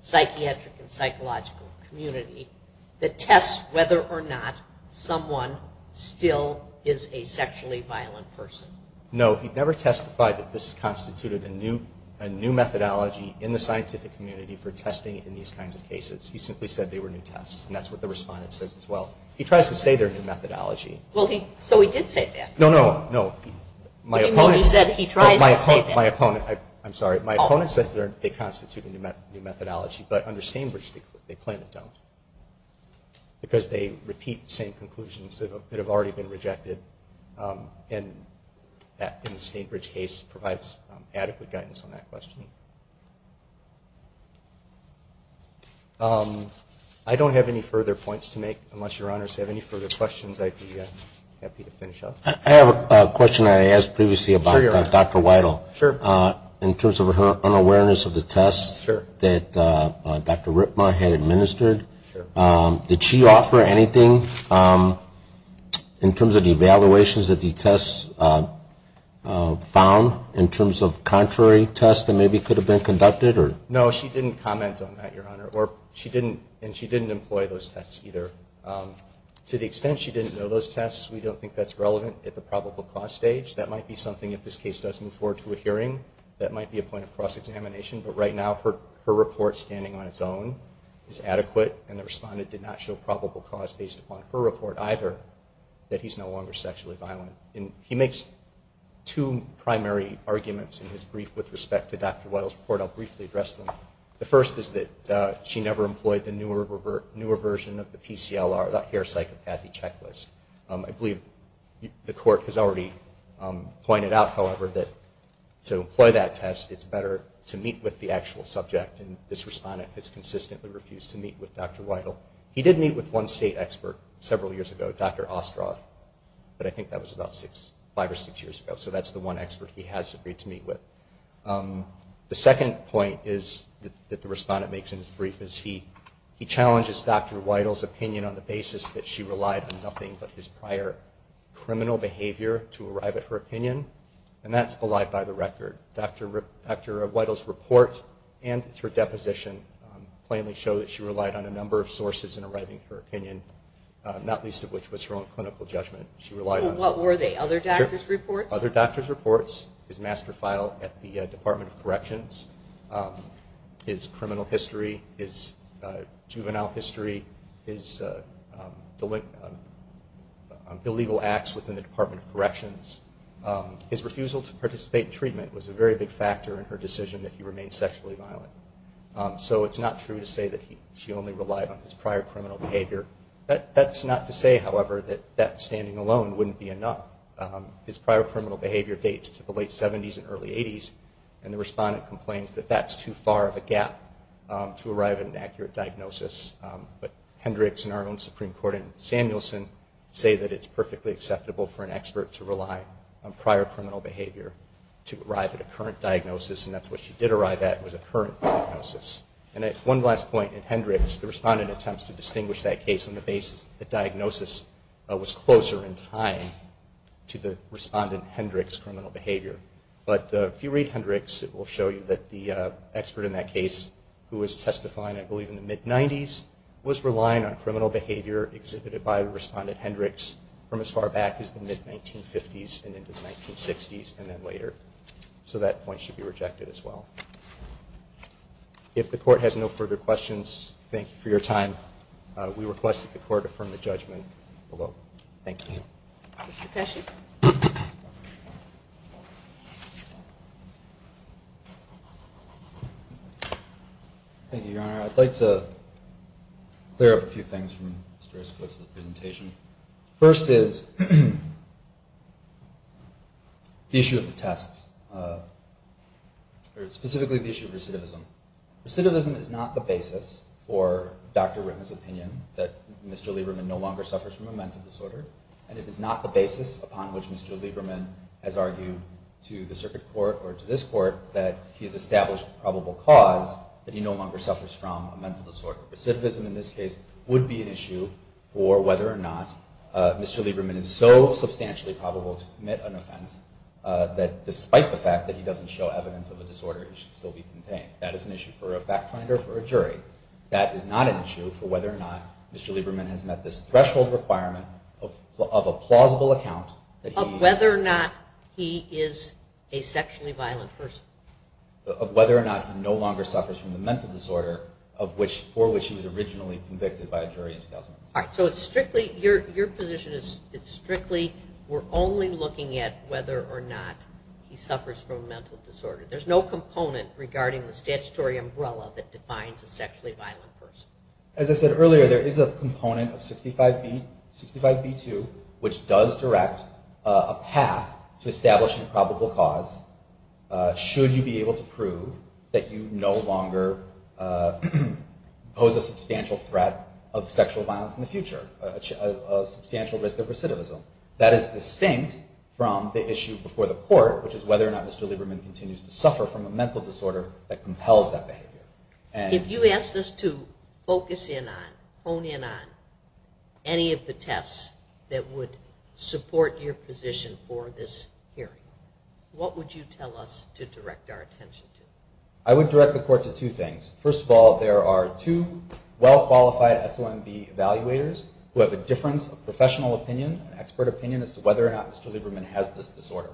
psychiatric and psychological community that tests whether or not someone still is a sexually violent person? No, he never testified that this constituted a new methodology in the scientific community for testing in these kinds of cases. He simply said they were new tests. And that's what the respondent says as well. He tries to say they're a new methodology. So he did say that? No, no, no. What do you mean you said he tries to say that? My opponent says they constitute a new methodology. But under the same conclusions that have already been rejected in the St. Bridge case provides adequate guidance on that question. I don't have any further points to make unless your Honor has any further questions I'd be happy to finish up. I have a question I asked previously about Dr. Weidel. Sure. In terms of her unawareness of the tests that Dr. Ripma had administered, did she offer anything in terms of the evaluations that the tests found in terms of contrary tests that maybe could have been conducted? No, she didn't comment on that your Honor. And she didn't employ those tests either. To the extent she didn't know those tests we don't think that's relevant at the probable cause stage. That might be something if this case does move forward to a report standing on its own is adequate and the respondent did not show probable cause based upon her report either that he's no longer sexually violent. He makes two primary arguments in his brief with respect to Dr. Weidel's report. I'll briefly address them. The first is that she never employed the newer version of the PCLR, the Hair Psychopathy Checklist. I believe the Court has already pointed out however that to employ that test it's better to meet with the actual subject and this respondent has consistently refused to meet with Dr. Weidel. He did meet with one state expert several years ago, Dr. Ostrov, but I think that was about five or six years ago. So that's the one expert he has agreed to meet with. The second point is that the respondent makes in his brief is he challenges Dr. Weidel's opinion on the basis that she relied on nothing but his prior criminal behavior to arrive at her opinion and that's belied by the record. Dr. Weidel's report and her deposition plainly show that she relied on a number of sources in arriving at her opinion, not least of which was her own clinical judgment. She relied on... What were they? Other doctor's reports? Other doctor's reports, his master file at the Department of Corrections, his criminal history, his juvenile history, his illegal acts within the Department of Corrections. His refusal to participate in treatment was a very big factor in her decision that he remained sexually violent. So it's not true to say that she only relied on his prior criminal behavior. That's not to say however that that standing alone wouldn't be enough. His prior criminal behavior dates to the late 70s and early 80s and the respondent complains that that's too far of a gap to arrive at an accurate diagnosis. But Hendricks and our own Supreme Court and Samuelson say that it's perfectly acceptable for an expert to rely on prior criminal behavior to arrive at a current diagnosis and that's what she did arrive at was a current diagnosis. And at one last point in Hendricks, the respondent attempts to distinguish that case on the basis that the diagnosis was closer in time to the respondent Hendricks' criminal behavior. But if you read Hendricks it will show you that the expert in that case who was testifying I believe in the mid 90s was relying on criminal behavior exhibited by the respondent Hendricks from as far back as the mid 1950s and into the 1960s and then later. So that point should be rejected as well. If the court has no further questions, thank you for your time. We request that the court affirm the judgment below. Thank you. Thank you, Your Honor. I'd like to clear up a few things from Mr. Esquivel's presentation. First is the issue of the tests or specifically the issue of recidivism. Recidivism is not the basis for Dr. Ritman's opinion that Mr. Lieberman no longer suffers from a mental disorder and it is not the basis upon which Mr. Lieberman has argued to the circuit court or to this court that he has established a probable cause that he no longer suffers from a mental disorder. Recidivism in this case would be an issue for whether or not Mr. Lieberman is so substantially probable to commit an offense that despite the fact that he doesn't show evidence of a disorder it should still be contained. That is an issue for a fact finder or for a jury. That is not an issue for whether or not Mr. Lieberman has met this threshold requirement of a plausible account of whether or not he is a sexually violent person. Of whether or not he no longer suffers from the mental disorder for which he was originally convicted by a jury in 2006. Your position is strictly we're only looking at whether or not he suffers from a mental disorder. There's no component regarding the statutory umbrella that defines a sexually violent person. As I said earlier there is a component of 65b2 which does direct a path to establishing a probable cause should you be able to prove that you no longer pose a substantial threat of sexual violence in the future. A substantial risk of recidivism. That is distinct from the issue before the court which is whether or not Mr. Lieberman continues to suffer from a mental disorder that compels that behavior. If you asked us to focus in on any of the tests that would support your position for this hearing, what would you tell us to direct our attention to? I would direct the court to two things. First of all there are two well qualified SOMB evaluators who have a difference of professional opinion and expert opinion as to whether or not Mr. Lieberman has this disorder.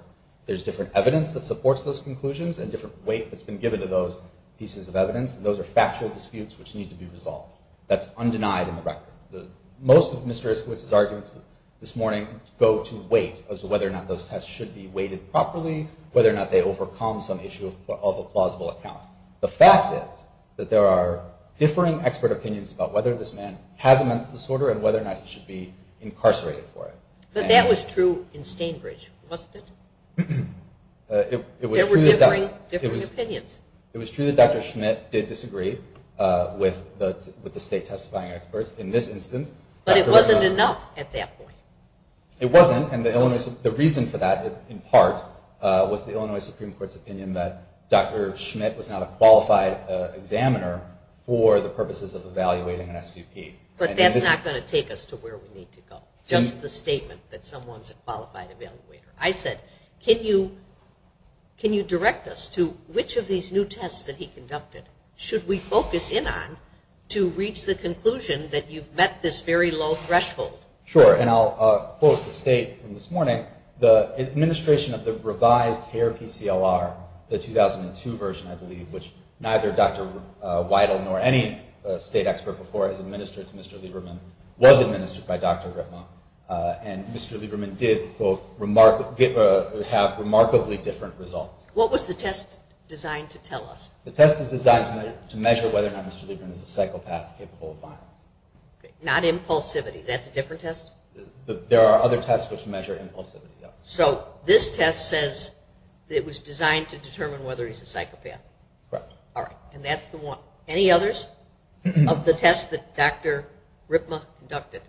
There's different evidence that supports those conclusions and different weight that's been given to those pieces of evidence. Those are factual disputes which need to be resolved. That's undenied in the record. Most of Mr. Iskowitz's arguments this morning go to weight as to whether or not those tests should be weighted properly, whether or not they overcome some issue of a plausible account. The fact is that there are differing expert opinions about whether this man has a mental disorder and whether or not he should be incarcerated for it. But that was true in Stainbridge, wasn't it? There were differing opinions. It was true that the state testifying experts in this instance... But it wasn't enough at that point. It wasn't and the reason for that in part was the Illinois Supreme Court's opinion that Dr. Schmidt was not a qualified examiner for the purposes of evaluating an SVP. But that's not going to take us to where we need to go. Just the statement that someone's a qualified evaluator. I said can you direct us to which of these new tests that he conducted should we focus in on to reach the conclusion that you've met this very low threshold? Sure and I'll quote the state from this morning. The administration of the revised CARE PCLR, the 2002 version I believe, which neither Dr. Weidel nor any state expert before has administered to Mr. Lieberman was administered by Dr. Ritma and Mr. Lieberman did have remarkably different results. What was the test designed to tell us? The test is designed to measure whether or not Mr. Lieberman is a psychopath capable of violence. Not impulsivity. That's a different test? There are other tests which measure impulsivity. So this test says it was designed to determine whether he's a psychopath? Correct. Alright and that's the one. Any others of the test that Dr. Weidel did?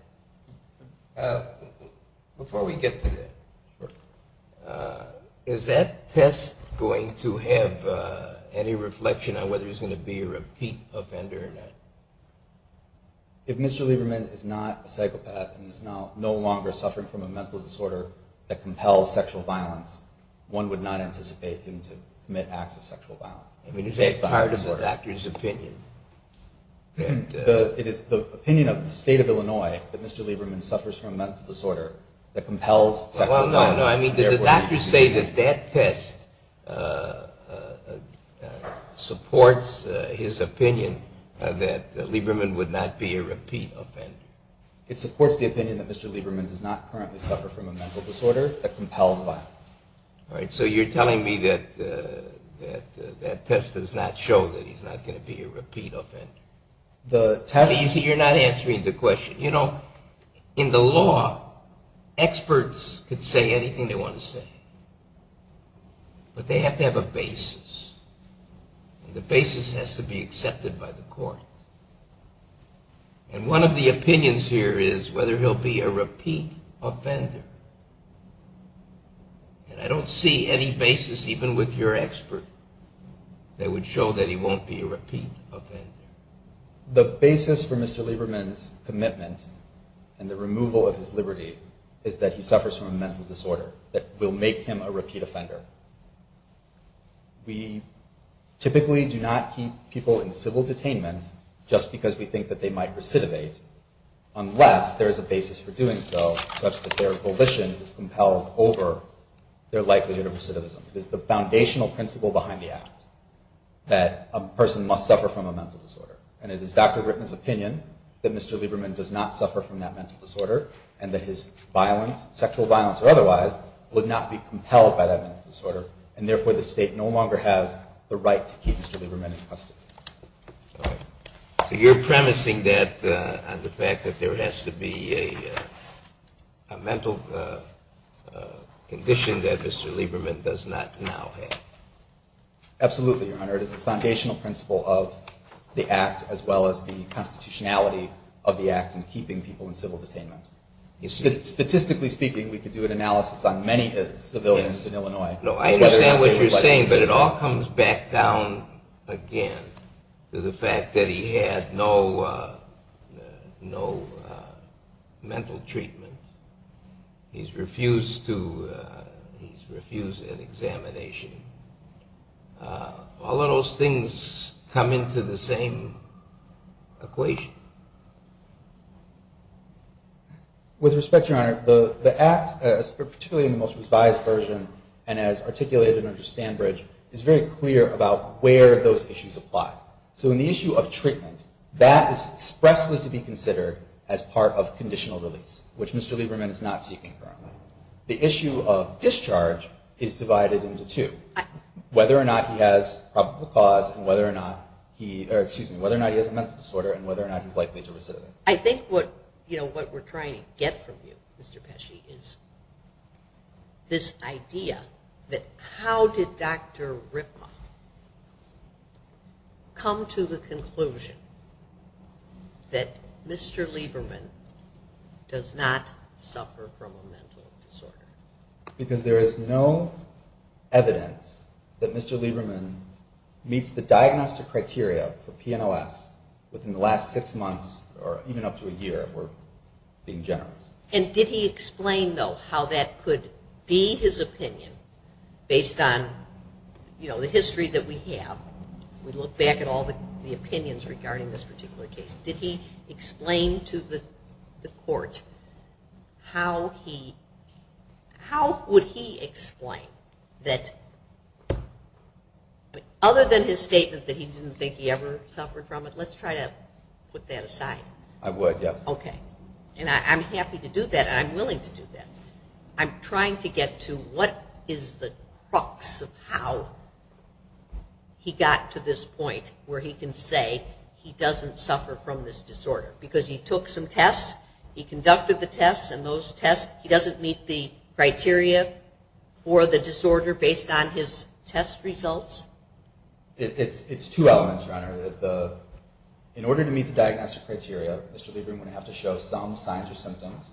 Is that test going to have any reflection on whether he's going to be a repeat offender or not? If Mr. Lieberman is not a psychopath and is no longer suffering from a mental disorder that compels sexual violence, one would not anticipate him to commit acts of sexual violence. I mean is that part of the doctor's opinion? It is the opinion of the state of Illinois that Mr. Lieberman suffers from a mental disorder that compels sexual violence. No, no, I mean did the doctor say that that test supports his opinion that Lieberman would not be a repeat offender? It supports the opinion that Mr. Lieberman does not currently suffer from a mental disorder that compels violence. Alright, so you're telling me that that test does not show that he's not going to be a repeat offender? You're not answering the question. You know, in the law, experts could say anything they want to say. But they have to have a basis. And the basis has to be accepted by the court. And one of the opinions here is whether he'll be a repeat offender. And I don't see any basis even with your expert that would show that he won't be a repeat offender. The basis for Mr. Lieberman's commitment and the removal of his liberty is that he suffers from a mental disorder that will make him a repeat offender. We typically do not keep people in civil detainment just because we think that they might recidivate, unless there is a basis for doing so such that their volition is compelled over their likelihood of recidivism. It is the foundational principle behind the act that a person must suffer from a mental disorder. And it is Dr. Ritten's opinion that Mr. Lieberman does not suffer from that mental disorder and that his violence, sexual violence or otherwise, would not be compelled by that mental disorder. And therefore the state no longer has the right to keep Mr. Lieberman in custody. So you're premising that on the fact that there has to be a mental condition that Mr. Lieberman does not now have. Absolutely, Your Honor. It is the foundational principle of the act as well as the constitutionality of the act in keeping people in civil detainment. Statistically speaking, we could do an analysis on many civilians in Illinois. I understand what you're saying, but it all comes back down again to the fact that he had no mental treatment. He's refused an examination. All of those things come into the same equation. With respect, Your Honor, the act, particularly in the most revised version and as articulated under Stanbridge, is very clear about where those issues apply. So in the issue of treatment, that is expressly to be considered as part of conditional release, which Mr. Lieberman is not seeking currently. The issue of discharge is divided into two. Whether or not he has probable cause and whether or not he has a mental disorder and whether or not he's likely to recidivate. I think what we're trying to get from you, Mr. Pesci, is this idea that how did Dr. Ripma come to the conclusion that Mr. Lieberman does not suffer from a mental disorder? Because there is no evidence that Mr. Lieberman meets the diagnostic criteria for PNOS within the last six months or even up to a year, if we're being generous. Based on the history that we have, we look back at all the opinions regarding this particular case, did he explain to the court how would he explain that other than his statement that he didn't think he ever suffered from it, let's try to put that aside. I would, yes. Okay. And I'm happy to do that and I'm willing to do that. I'm trying to get to what is the crux of how he got to this point where he can say he doesn't suffer from this disorder. Because he took some tests, he conducted the tests and those tests, he doesn't meet the criteria for the disorder based on his test results? It's two elements, Your Honor. In order to meet the diagnostic criteria, Mr. Lieberman would have to show some signs or symptoms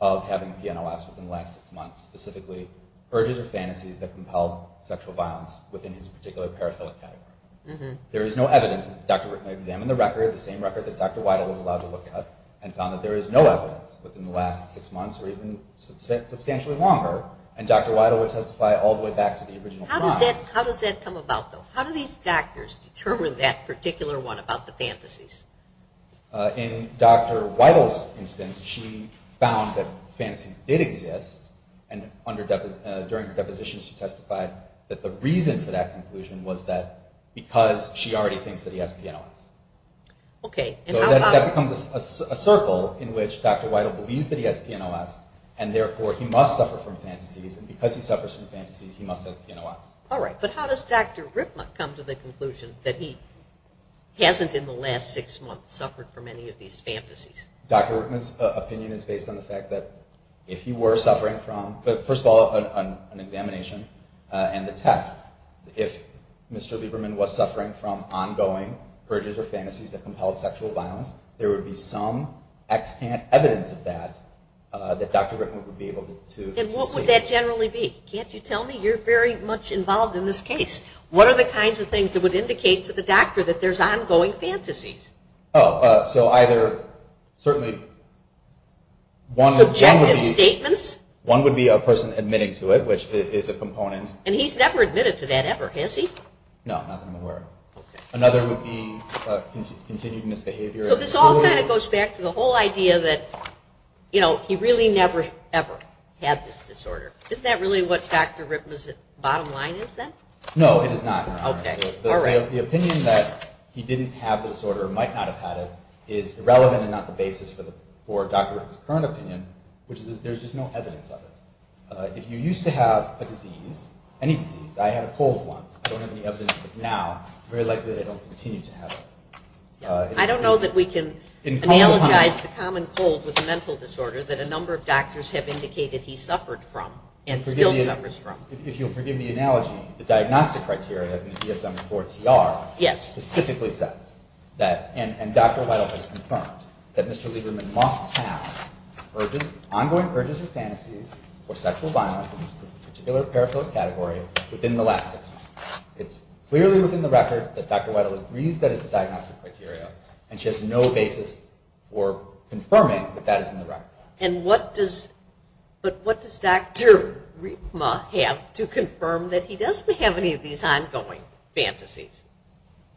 of having PNOS within the last six months. Specifically, urges or fantasies that compelled sexual violence within his particular paraphilic category. There is no evidence. The doctor examined the record, the same record that Dr. Weidel was allowed to look at and found that there is no evidence within the last six months or even substantially longer. And Dr. Weidel would testify all the way back to the original crime. How do these doctors determine that particular one about the fantasies? In Dr. Weidel's instance, she found that fantasies did exist and during her deposition she testified that the reason for that conclusion was that because she already thinks that he has PNOS. So that becomes a circle in which Dr. Weidel believes that he has PNOS and therefore he must suffer from fantasies and because he suffers from fantasies he must have PNOS. All right, but how does Dr. Ripma come to the conclusion that he hasn't in the last six months suffered from any of these fantasies? Dr. Ripma's opinion is based on the fact that if he were suffering from, first of all, an examination and the tests, if Mr. Lieberman was suffering from ongoing urges or fantasies that compelled sexual violence, there would be some evidence of that that Dr. Ripma would be able to see. And what would that generally be? Can't you tell me? You're very much involved in this case. What are the kinds of things that would indicate to the doctor that there's ongoing fantasies? One would be a person admitting to it, which is a component. And he's never admitted to that ever, has he? No, not that I'm aware of. Another would be continued misbehavior. So this all kind of goes back to the whole idea that he really never ever had this disorder. Isn't that really what Dr. Ripma's bottom line is then? No, it is not. The opinion that he didn't have the disorder or might not have had it is irrelevant and not the basis for Dr. Ripma's current opinion, which is that there's just no evidence of it. If you used to have a disease, any disease, I had a cold once, I don't have any evidence of it now, it's very likely that I don't continue to have it. I don't know that we can analogize the common cold with a mental disorder that a number of doctors have indicated he suffered from and still suffers from. If you'll forgive the analogy, the diagnostic criteria in the DSM-IV-TR specifically says that, and Dr. Weidel has confirmed, that Mr. Lieberman must have ongoing urges or fantasies for sexual violence in this particular paraphilic category within the last six months. It's clearly within the record that Dr. Weidel agrees that it's a diagnostic criteria, and she has no basis for confirming that that is in the record. But what does Dr. Ripma have to confirm that he doesn't have any of these ongoing fantasies?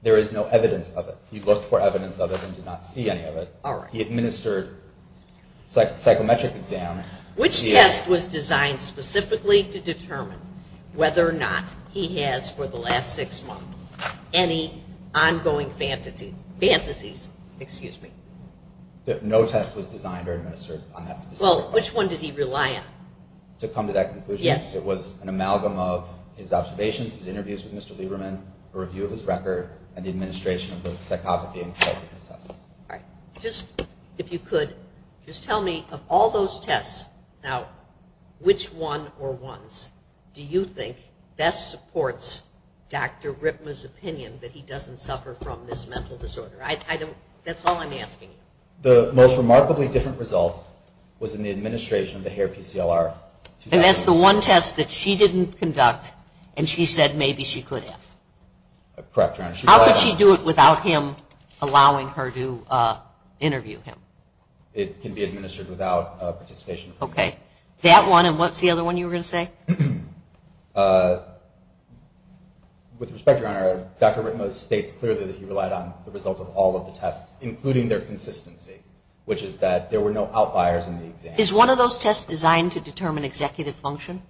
There is no evidence of it. He looked for evidence of it and did not see any of it. He administered psychometric exams. Which test was designed specifically to determine whether or not he has, for the last six months, any ongoing fantasies? No test was designed or administered on that specific question. Well, which one did he rely on? To come to that conclusion, it was an amalgam of his observations, his interviews with Mr. Lieberman, a review of his record, and the administration of the psychopathy tests. Just tell me, of all those tests, which one or ones do you think best supports Dr. Ripma's opinion that he doesn't suffer from this mental disorder? The most remarkably different result was in the administration of the HAIR-PCLR. And that's the one test that she didn't conduct and she said maybe she could have? Correct, Your Honor. How could she do it without him allowing her to interview him? It can be administered without participation. That one, and what's the other one you were going to say? With respect, Your Honor, Dr. Ripma states clearly that he relied on the results of all of the tests, including their consistency, which is that there were no outliers in the exam. Is one of those tests designed to determine executive function?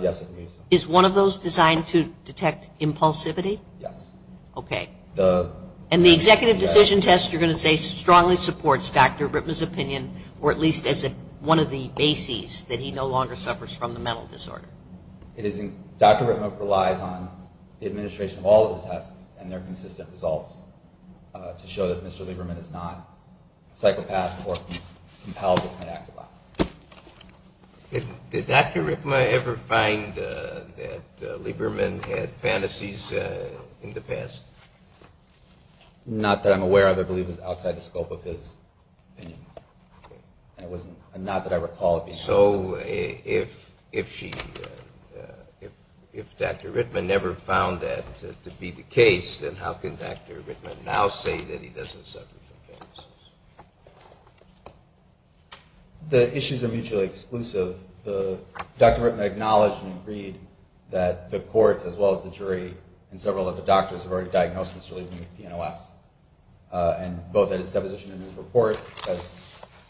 Yes, it is. Is one of those designed to detect impulsivity? Yes. Okay. And the executive decision test, you're going to say, strongly supports Dr. Ripma's opinion, or at least as one of the bases that he no longer suffers from the mental disorder? Dr. Ripma relies on the administration of all of the tests and their consistent results to show that Mr. Lieberman is not a psychopath or compelled to commit acts of violence. Did Dr. Ripma ever find that Lieberman had fantasies in the past? Not that I'm aware of. I believe it was outside the scope of his opinion, and not that I recall it being. So if Dr. Ripma never found that to be the case, then how can Dr. Ripma now say that he doesn't suffer from fantasies? The issues are mutually exclusive. Dr. Ripma acknowledged and agreed that the courts as well as the jury and several of the doctors have already diagnosed Mr. Lieberman with PNOS, and both at his deposition and in his report,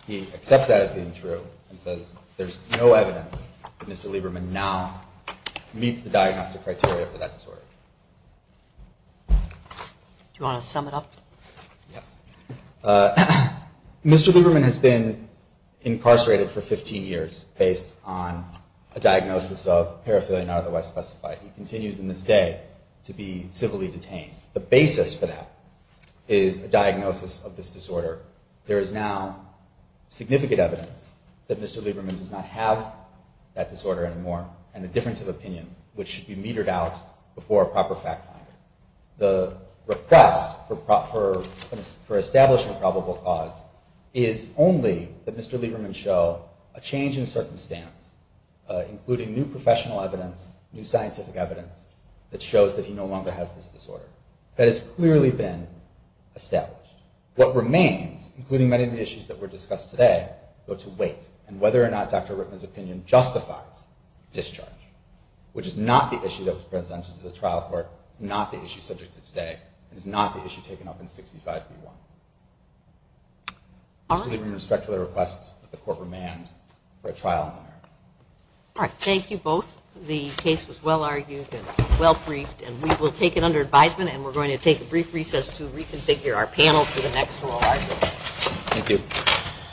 he accepts that as being true and says there's no evidence that Mr. Lieberman now meets the diagnostic criteria for that disorder. Do you want to sum it up? Yes. Mr. Lieberman has been incarcerated for 15 years based on a diagnosis of paraphernalia not otherwise specified. He continues in this day to be civilly detained. The basis for that is a diagnosis of this disorder. There is now significant evidence that Mr. Lieberman does not have that disorder anymore, and the difference of opinion, which should be metered out before a proper fact finder. The request for establishing a probable cause is only that Mr. Lieberman show a change in circumstance, including new professional evidence, new scientific evidence that shows that he no longer has this disorder. That has clearly been established. What remains, including many of the issues that were discussed today, go to wait and whether or not Dr. Ritman's opinion justifies discharge, which is not the issue that was presented to the trial court, not the issue subject to today, and is not the issue taken up in 65B1. Mr. Lieberman respectfully requests that the court remand for a trial in America. All right, thank you both. The case was well argued and well briefed, and we will take it under advisement, and we're going to take a brief recess to reconfigure our panel for the next 12 hours.